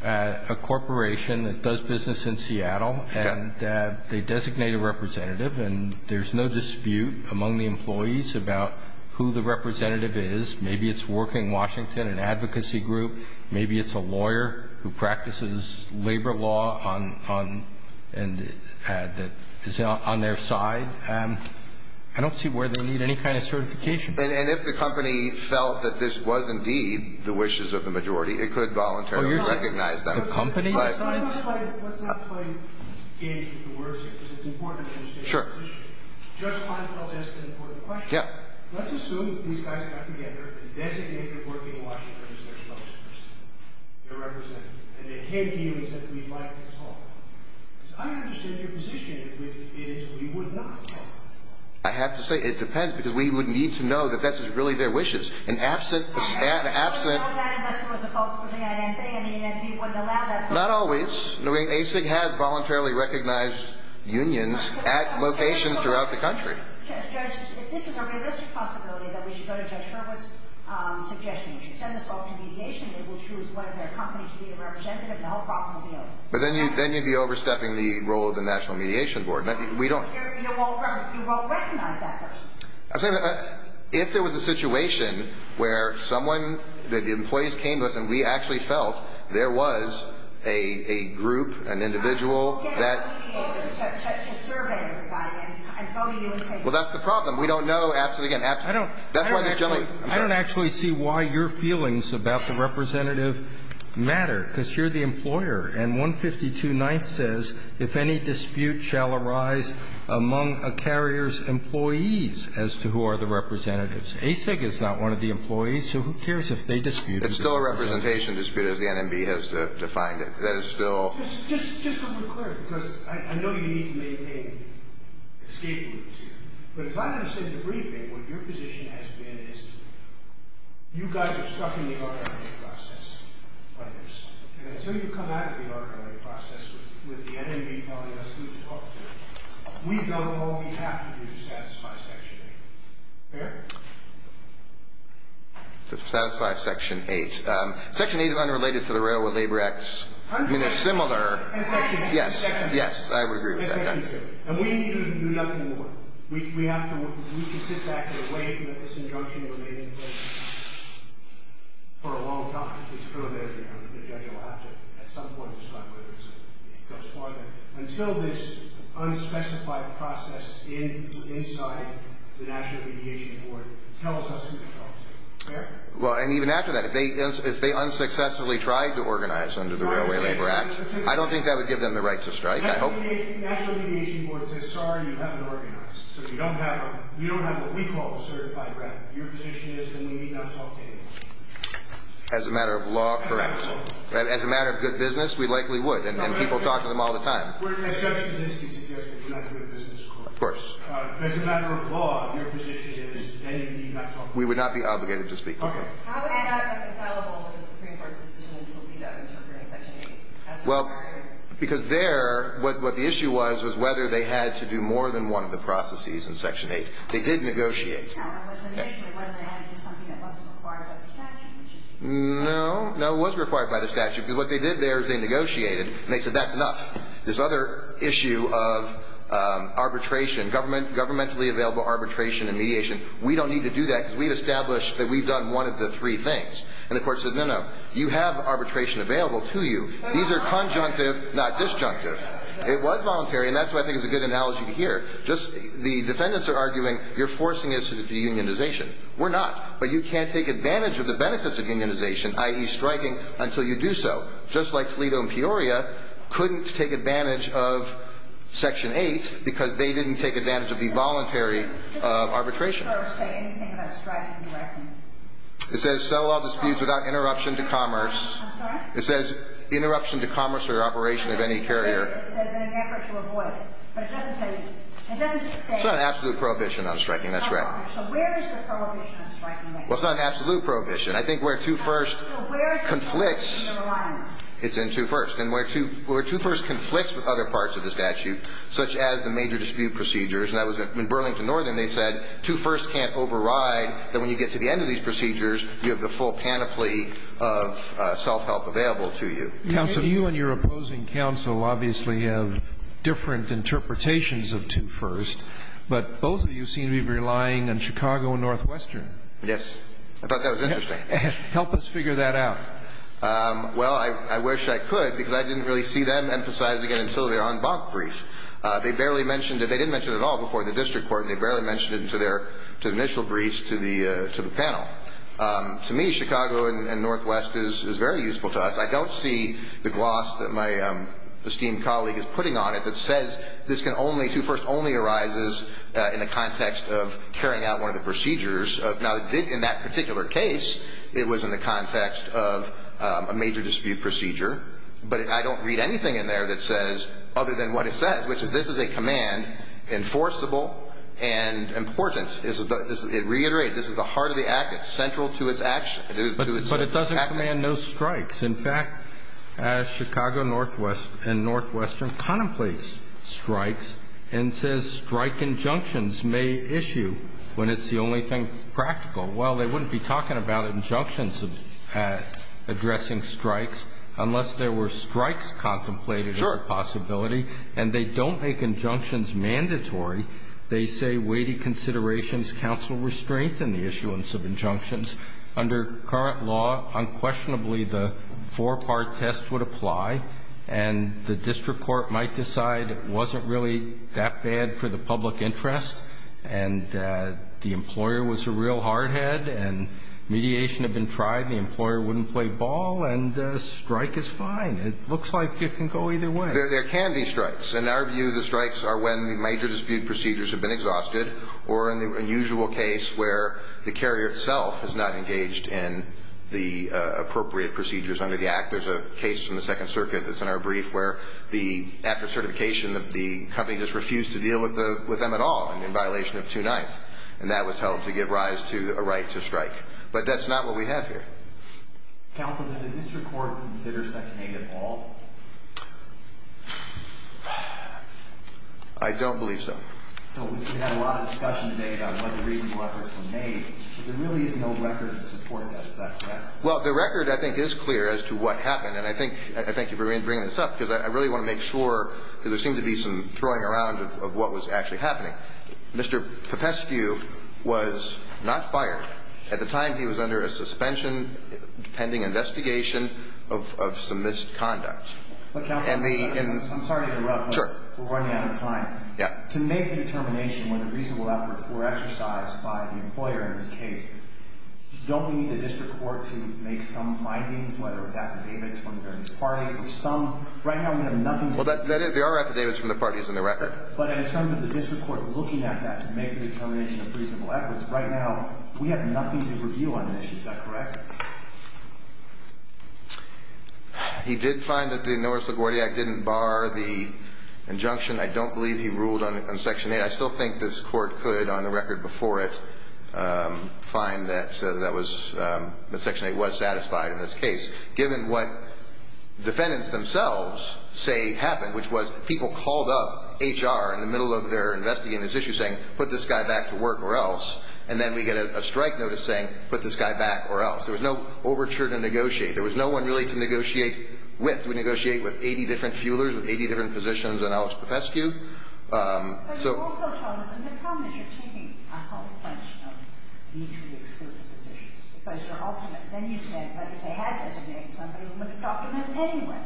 a corporation that does business in Seattle. Okay. And they designate a representative, and there's no dispute among the employees about who the representative is. Maybe it's working Washington, an advocacy group. Maybe it's a lawyer who practices labor law on their side. I don't see where they need any kind of certification. And if the company felt that this was indeed the wishes of the majority, it could voluntarily recognize them. Let's not play games with the words here, because it's important to understand the position. Sure. Judge Kleinfeld asked an important question. Yeah. Let's assume that these guys got together and designated working Washington as their spokesperson, their representative, and they came to you and said we'd like to talk. Because I understand your position, which is we would not talk. I have to say it depends, because we would need to know that this is really their wishes. And absent the staff, absent ‑‑ And you know that unless there was a cultural thing, I mean, and we wouldn't allow that. Not always. ASIC has voluntarily recognized unions at locations throughout the country. Judge, if this is a realistic possibility, then we should go to Judge Hurwitz's suggestion. We should send this off to mediation. They will choose whether their company should be a representative, and the whole problem will be over. But then you'd be overstepping the role of the National Mediation Board. We don't ‑‑ You won't recognize that person. I'm saying that if there was a situation where someone, that the employees came to us and we actually felt there was a group, an individual that ‑‑ I'm not going to go to mediation to survey everybody. I'm voting against it. Well, that's the problem. We don't know. Ask it again. That's why there's generally ‑‑ I don't actually see why your feelings about the representative matter, because you're the employer. And 152 9th says, if any dispute shall arise among a carrier's employees as to who are the representatives. ASIC is not one of the employees, so who cares if they dispute it? It's still a representation dispute, as the NMB has defined it. That is still ‑‑ Just so we're clear, because I know you need to maintain escape routes here. But as far as I understand the briefing, what your position has been is you guys are stuck in the authority process on this. And until you come out of the authority process with the NMB telling us who to talk to, we've done all we have to do to satisfy Section 8. Fair? To satisfy Section 8. Section 8 is unrelated to the Railroad Labor Acts. I mean, they're similar. And Section 2. Yes. I would agree with that. And we need to do nothing more. We have to ‑‑ we can sit back and wait until this injunction is made in place for a long time. It's preliminary. The judge will have to at some point decide whether it goes farther. Until this unspecified process inside the National Mediation Board tells us who to talk to. Fair? Well, and even after that, if they unsuccessfully tried to organize under the Railway Labor Act, I don't think that would give them the right to strike. National Mediation Board says, sorry, you haven't organized. So we don't have what we call a certified rep. Your position is that we need not talk to anyone. As a matter of law, correct. As a matter of good business, we likely would. And people talk to them all the time. As a matter of law, your position is that we need not talk to them. We would not be obligated to speak to them. Okay. How would that have been conceivable with the Supreme Court's decision to leave out interpreting Section 8? Well, because there, what the issue was, was whether they had to do more than one of the processes in Section 8. They did negotiate. No. No, it was required by the statute. Because what they did there is they negotiated. And they said, that's enough. This other issue of arbitration, governmentally available arbitration and mediation, we don't need to do that because we've established that we've done one of the three things. And the court said, no, no, you have arbitration available to you. These are conjunctive, not disjunctive. It was voluntary. And that's what I think is a good analogy to hear. The defendants are arguing, you're forcing us to do unionization. We're not. But you can't take advantage of the benefits of unionization, i.e., striking, until you do so. Just like Toledo and Peoria couldn't take advantage of Section 8 because they didn't take advantage of the voluntary arbitration. It says sell all disputes without interruption to commerce. I'm sorry? It says interruption to commerce or operation of any carrier. It says in an effort to avoid it. But it doesn't say. It doesn't say. It's not an absolute prohibition on striking. That's right. So where is the prohibition of striking at? Well, it's not an absolute prohibition. I think where Two First conflicts. So where is the prohibition in the reliance? It's in Two First. And where Two First conflicts with other parts of the statute, such as the major dispute procedures, and that was in Burlington Northern, they said Two First can't override, that when you get to the end of these procedures, you have the full panoply of self-help available to you. Counsel, you and your opposing counsel obviously have different interpretations of Two First, but both of you seem to be relying on Chicago and Northwestern. Yes. I thought that was interesting. Help us figure that out. Well, I wish I could because I didn't really see them emphasized again until their en banc brief. They barely mentioned it. They didn't mention it at all before the district court, and they barely mentioned it to their initial briefs to the panel. To me, Chicago and Northwest is very useful to us. I don't see the gloss that my esteemed colleague is putting on it that says this can only, Two First only arises in the context of carrying out one of the procedures. Now, in that particular case, it was in the context of a major dispute procedure, but I don't read anything in there that says other than what it says, which is this is a command enforceable and important. It reiterates this is the heart of the act. It's central to its action. But it doesn't command no strikes. In fact, Chicago and Northwestern contemplates strikes and says strike injunctions may issue when it's the only thing practical. Well, they wouldn't be talking about injunctions of addressing strikes unless there were strikes contemplated as a possibility. And they don't make injunctions mandatory. They say weighty considerations counsel restraint in the issuance of injunctions. Under current law, unquestionably, the four-part test would apply and the district court might decide it wasn't really that bad for the public interest and the employer was a real hard head and mediation had been tried and the employer wouldn't play ball and strike is fine. It looks like it can go either way. There can be strikes. In our view, the strikes are when the major dispute procedures have been exhausted or in the usual case where the carrier itself is not engaged in the appropriate procedures under the act. There's a case in the Second Circuit that's in our brief where the after certification of the company just refused to deal with them at all in violation of 2-9th. And that was held to give rise to a right to strike. But that's not what we have here. Counsel, did the district court consider Section 8 at all? I don't believe so. So we had a lot of discussion today about what the reasonable efforts were made, but there really is no record to support that. Is that correct? Well, the record, I think, is clear as to what happened. And I think I thank you for bringing this up because I really want to make sure because there seemed to be some throwing around of what was actually happening. Mr. Popescu was not fired. At the time, he was under a suspension pending investigation of some misconduct. Counsel, I'm sorry to interrupt. Sure. We're running out of time. Yeah. To make a determination whether reasonable efforts were exercised by the employer in this case, don't we need the district court to make some findings, whether it's affidavits from various parties or some? Right now, we have nothing to do with that. Well, there are affidavits from the parties in the record. But in terms of the district court looking at that to make a determination of reasonable efforts, right now, we have nothing to review on this. Is that correct? He did find that the Norris LaGuardia didn't bar the injunction. I don't believe he ruled on Section 8. I still think this court could, on the record before it, find that Section 8 was satisfied in this case. Given what defendants themselves say happened, which was people called up HR in the middle of their investigation of this issue saying, put this guy back to work or else. And then we get a strike notice saying, put this guy back or else. There was no overture to negotiate. There was no one really to negotiate with. We negotiated with 80 different fuelers, with 80 different positions on Alex Popescu. But you also told us that the problem is you're taking a whole bunch of mutually exclusive positions. Because ultimately, then you said that if they had designated somebody, we would have talked to them anyway.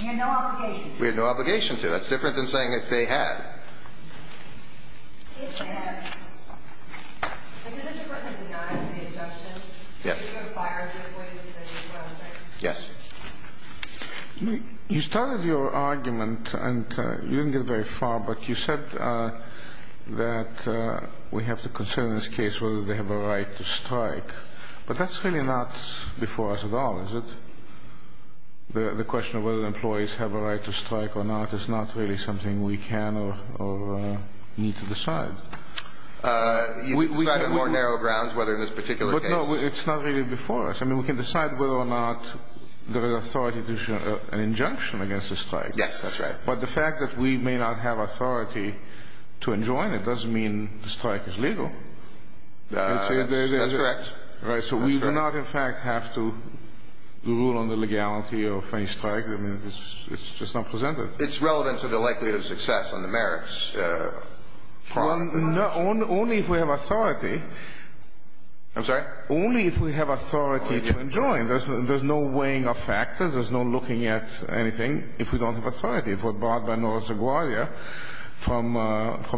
We had no obligation to. We had no obligation to. That's different than saying that they had. It had. If the district court had denied the injunction, you would have fired them, wouldn't you? Yes. You started your argument, and you didn't get very far, but you said that we have to consider in this case whether they have a right to strike. But that's really not before us at all, is it? The question of whether employees have a right to strike or not is not really something we can or need to decide. You can decide on more narrow grounds, whether in this particular case. But, no, it's not really before us. I mean, we can decide whether or not there is authority to issue an injunction against a strike. Yes, that's right. But the fact that we may not have authority to enjoin it doesn't mean the strike is legal. That's correct. So we do not, in fact, have to rule on the legality of any strike. I mean, it's just not presented. It's relevant to the likelihood of success on the merits. Only if we have authority. I'm sorry? Only if we have authority to enjoin. There's no weighing of factors. There's no looking at anything if we don't have authority. If we're barred by North LaGuardia from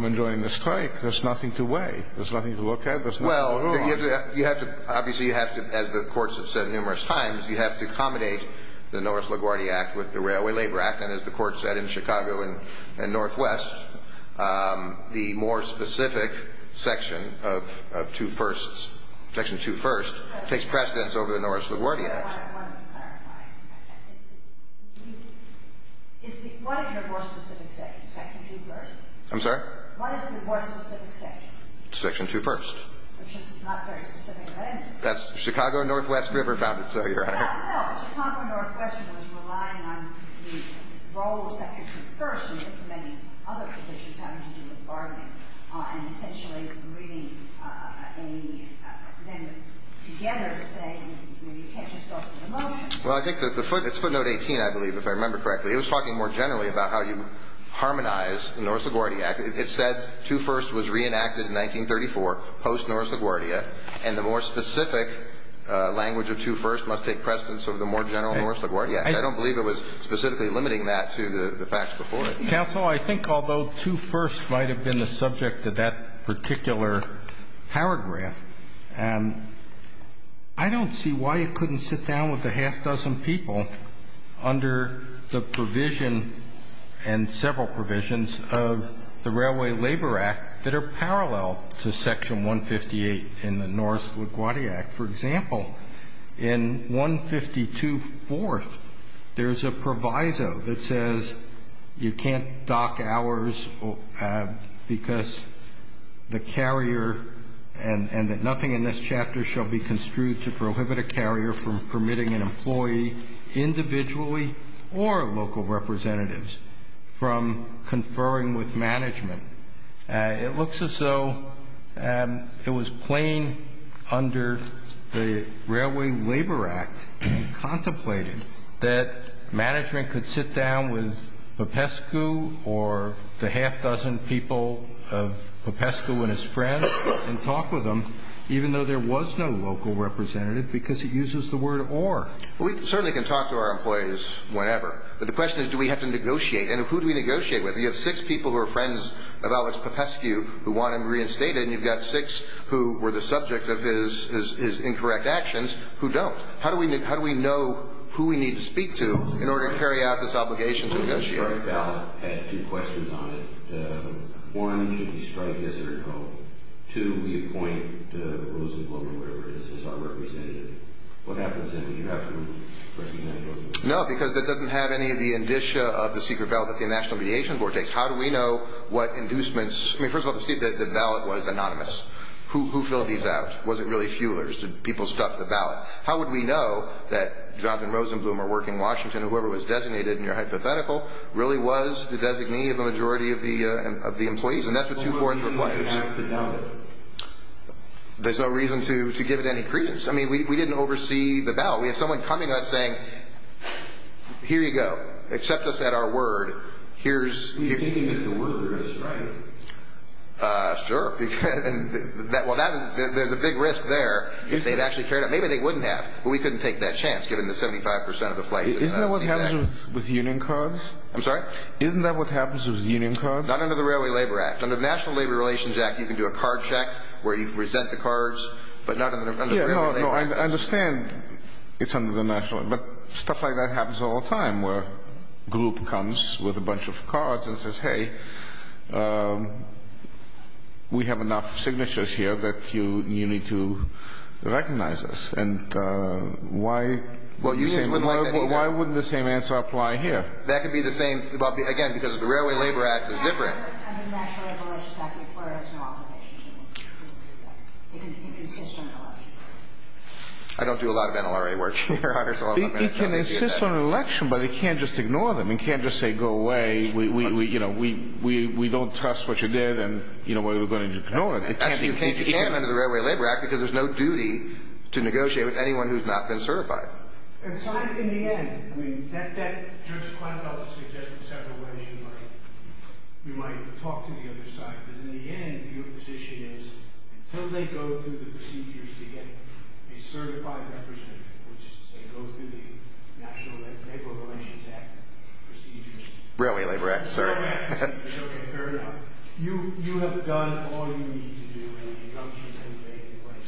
enjoining the strike, there's nothing to weigh. There's nothing to look at. There's nothing to rule on. Well, you have to – obviously, you have to, as the courts have said numerous times, you have to accommodate the North LaGuardia Act with the Railway Labor Act. And as the Court said in Chicago and Northwest, the more specific section of Two Firsts, Section 2 First, takes precedence over the North LaGuardia Act. I want to clarify. What is your more specific section, Section 2 First? I'm sorry? What is the more specific section? Section 2 First. It's just not very specific, right? That's Chicago and Northwest River bounded, so Your Honor. No. Chicago and Northwest was relying on the role of Section 2 First and implementing other provisions, having to do with bargaining, and essentially bringing a – then together saying, you know, you can't just go through the motions. Well, I think that the – it's footnote 18, I believe, if I remember correctly. It was talking more generally about how you harmonize the North LaGuardia Act. It said Two Firsts was reenacted in 1934, post-North LaGuardia, and the more specific language of Two Firsts must take precedence over the more general North LaGuardia Act. I don't believe it was specifically limiting that to the facts before it. Counsel, I think although Two Firsts might have been the subject of that particular paragraph, I don't see why it couldn't sit down with a half dozen people under the provision and several provisions of the Railway Labor Act that are parallel to Section 158 in the North LaGuardia Act. For example, in 152 Fourth, there's a proviso that says you can't dock hours because the carrier and that nothing in this chapter shall be construed to prohibit a carrier from permitting an employee individually or local representatives from conferring with management. It looks as though it was plain under the Railway Labor Act, contemplated, that management could sit down with Popescu or the half dozen people of Popescu and his friends and talk with them even though there was no local representative because he uses the word or. Well, we certainly can talk to our employees whenever, but the question is do we have to negotiate and who do we negotiate with? You have six people who are friends of Alex Popescu who want him reinstated and you've got six who were the subject of his incorrect actions who don't. How do we know who we need to speak to in order to carry out this obligation to negotiate? The strike ballot had two questions on it. One, should we strike yes or no? Two, we appoint Rosenblum or whatever it is as our representative. What happens then? Would you have to recommend it? No, because that doesn't have any of the indicia of the secret ballot that the National Mediation Board takes. How do we know what inducements? I mean, first of all, the ballot was anonymous. Who filled these out? Was it really fuelers? Did people stuff the ballot? How would we know that Jonathan Rosenblum, or working Washington, or whoever was designated in your hypothetical, really was the designee of the majority of the employees? And that's what two-fourths requires. There's no reason to have to doubt it. There's no reason to give it any credence. I mean, we didn't oversee the ballot. We had someone coming to us saying, here you go. Accept us at our word. We can't give it to workers, right? Sure. Well, there's a big risk there. Maybe they wouldn't have, but we couldn't take that chance, given the 75% of the flights. Isn't that what happens with union cards? I'm sorry? Isn't that what happens with union cards? Not under the Railway Labor Act. Under the National Labor Relations Act, you can do a card check where you present the cards, but not under the Railway Labor Act. I understand it's under the National. But stuff like that happens all the time, where a group comes with a bunch of cards and says, okay, we have enough signatures here that you need to recognize us. And why wouldn't the same answer apply here? That could be the same. Again, because the Railway Labor Act is different. Under the National Labor Relations Act, it requires an authorization to do that. It can insist on an election. I don't do a lot of NLRA work. It can insist on an election, but it can't just ignore them. It can't just say, go away. We don't trust what you did, and we're going to ignore it. Actually, you can under the Railway Labor Act, because there's no duty to negotiate with anyone who's not been certified. And so in the end, that just kind of suggests in several ways you might talk to the other side. But in the end, your position is, until they go through the procedures to get a certified representative, which is to say, go through the National Labor Relations Act procedures. Railway Labor Act, sir. Railway Labor Act. Okay, fair enough. You have done all you need to do, and you don't choose anybody.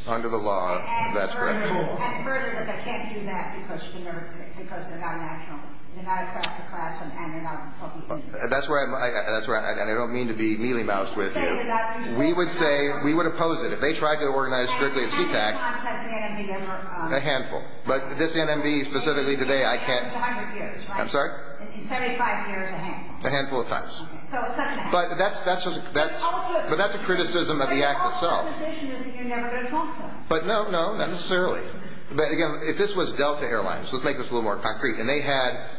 Under the law, that's correct. As further as I can't do that because they're not national. They're not a class, and they're not public. That's where I'm – and I don't mean to be mealy-moused with you. We would say – we would oppose it. How many times has the NMB ever – A handful. But this NMB, specifically today, I can't – It's 100 years, right? I'm sorry? 75 years, a handful. A handful of times. So it's not going to happen. But that's a criticism of the act itself. My position is that you're never going to talk to them. But no, no, not necessarily. But, again, if this was Delta Airlines, let's make this a little more concrete, and they had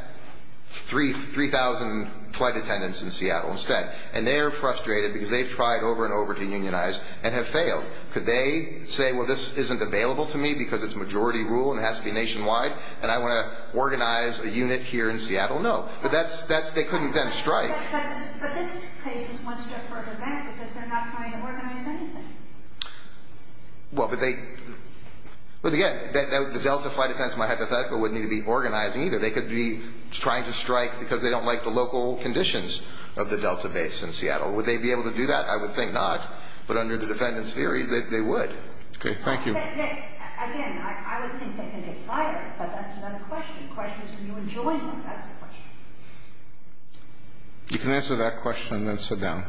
3,000 flight attendants in Seattle instead, and they're frustrated because they've tried over and over to unionize and have failed. Could they say, well, this isn't available to me because it's majority rule and it has to be nationwide, and I want to organize a unit here in Seattle? No. But that's – they couldn't then strike. But this case is one step further back because they're not trying to organize anything. Well, but they – well, again, the Delta flight attendants, my hypothetical, wouldn't need to be organizing either. They could be trying to strike because they don't like the local conditions of the Delta base in Seattle. Would they be able to do that? I would think not. But under the defendant's theory, they would. Okay. Thank you. Again, I would think they can get fired, but that's another question. The question is can you enjoin them? That's the question. You can answer that question and then sit down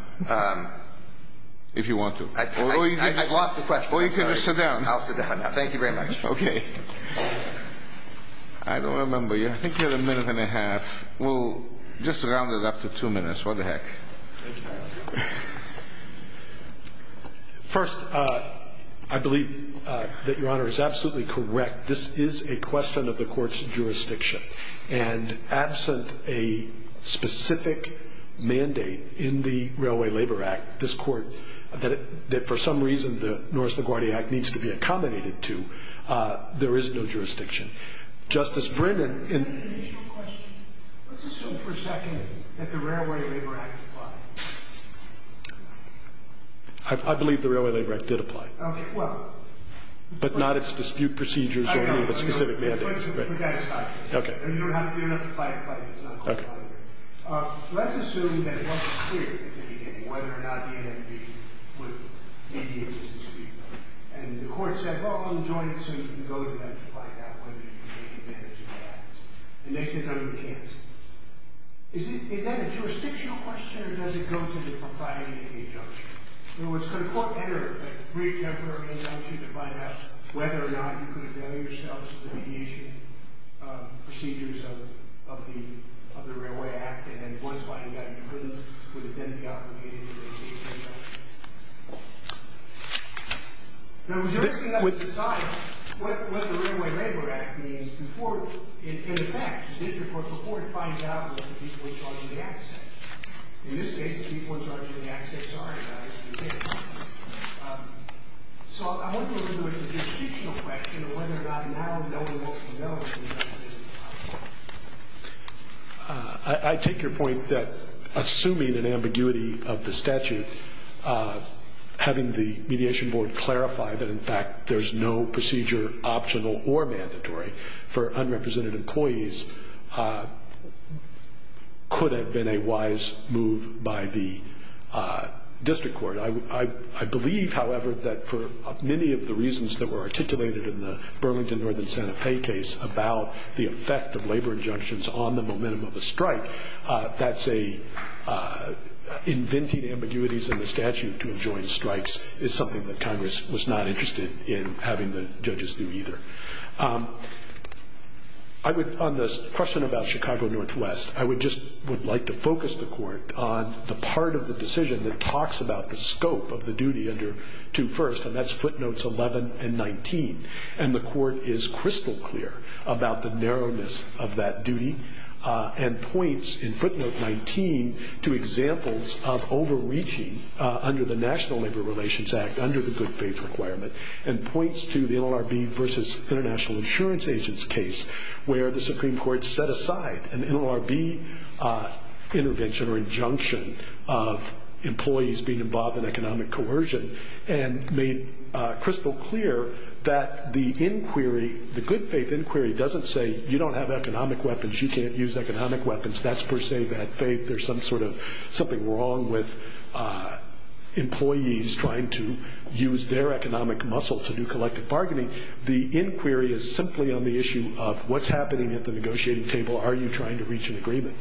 if you want to. I've lost the question. Or you can just sit down. I'll sit down now. Thank you very much. Okay. I don't remember you. I think you had a minute and a half. We'll just round it up to two minutes. Thank you, Your Honor. First, I believe that Your Honor is absolutely correct. This is a question of the court's jurisdiction. And absent a specific mandate in the Railway Labor Act, this court that for some reason the North LaGuardia Act needs to be accommodated to, there is no jurisdiction. Justice Brennan. Is that an initial question? Let's assume for a second that the Railway Labor Act applied. I believe the Railway Labor Act did apply. Okay. Well. But not its dispute procedures or any of its specific mandates. I know. But that is not true. Okay. And you don't have to be enough to fight a fight. It's not called a fight. Okay. Let's assume that it wasn't clear at the beginning whether or not the NMB would be able to speak. And the court said, well, I'm joining so you can go to them to find out whether you can take advantage of that. And they said no, you can't. Is that a jurisdictional question or does it go to the propriety of the injunction? In other words, could a court enter a brief temporary injunction to find out whether or not you could avail yourselves of the mediation procedures of the Railway Act? And then once finding out you couldn't, would it then be obligated to remove the injunction? No, but you're asking us to decide what the Railway Labor Act means before it, in effect, before it finds out what the people in charge of the act say. In this case, the people in charge of the act say sorry about it. So I wonder whether there's a jurisdictional question of whether or not now no one wants to know. I take your point that assuming an ambiguity of the statute, having the mediation board clarify that, in fact, there's no procedure optional or mandatory for unrepresented employees, could have been a wise move by the district court. I believe, however, that for many of the reasons that were articulated in the Burlington Northern Santa Fe case about the effect of labor injunctions on the momentum of a strike, inventing ambiguities in the statute to enjoin strikes is something that Congress was not interested in having the judges do either. On the question about Chicago Northwest, I would just like to focus the court on the part of the decision that talks about the scope of the duty under 2 First, and that's footnotes 11 and 19. And the court is crystal clear about the narrowness of that duty and points in footnote 19 to examples of overreaching under the National Labor Relations Act, under the good faith requirement, and points to the NLRB versus International Insurance Agents case, where the Supreme Court set aside an NLRB intervention or injunction of employees being involved in economic coercion and made crystal clear that the inquiry, the good faith inquiry, doesn't say you don't have economic weapons, you can't use economic weapons. That's per se bad faith. There's some sort of something wrong with employees trying to use their economic muscle to do collective bargaining. The inquiry is simply on the issue of what's happening at the negotiating table. Are you trying to reach an agreement?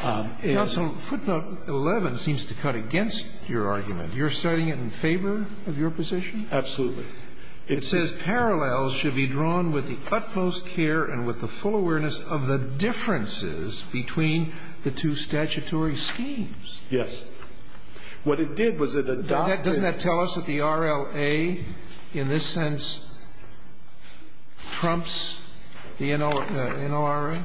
Counsel, footnote 11 seems to cut against your argument. You're citing it in favor of your position? Absolutely. It says, Parallels should be drawn with the utmost care and with the full awareness of the differences between the two statutory schemes. Yes. What it did was it adopted Doesn't that tell us that the RLA in this sense trumps the NLRA?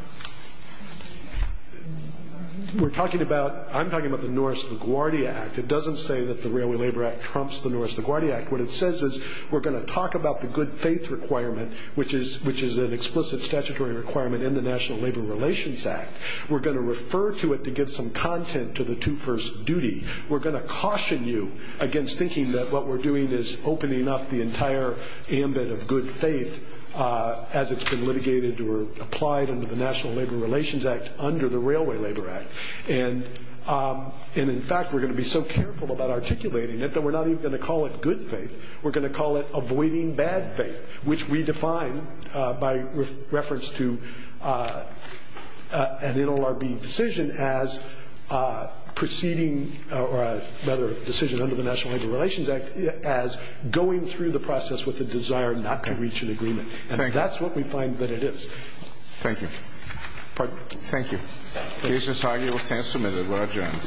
We're talking about, I'm talking about the Norris LaGuardia Act. It doesn't say that the Railway Labor Act trumps the Norris LaGuardia Act. What it says is we're going to talk about the good faith requirement, which is an explicit statutory requirement in the National Labor Relations Act. We're going to refer to it to give some content to the two first duty. We're going to caution you against thinking that what we're doing is opening up the entire ambit of good faith as it's been litigated or applied under the National Labor Relations Act under the Railway Labor Act. And in fact, we're going to be so careful about articulating it that we're not even going to call it good faith. We're going to call it avoiding bad faith, which we define by reference to an NLRB decision as proceeding or rather a decision under the National Labor Relations Act as going through the process with the desire not to reach an agreement. And that's what we find that it is. Thank you. Pardon? Thank you. Case is argued with 10 submitted. We're adjourned.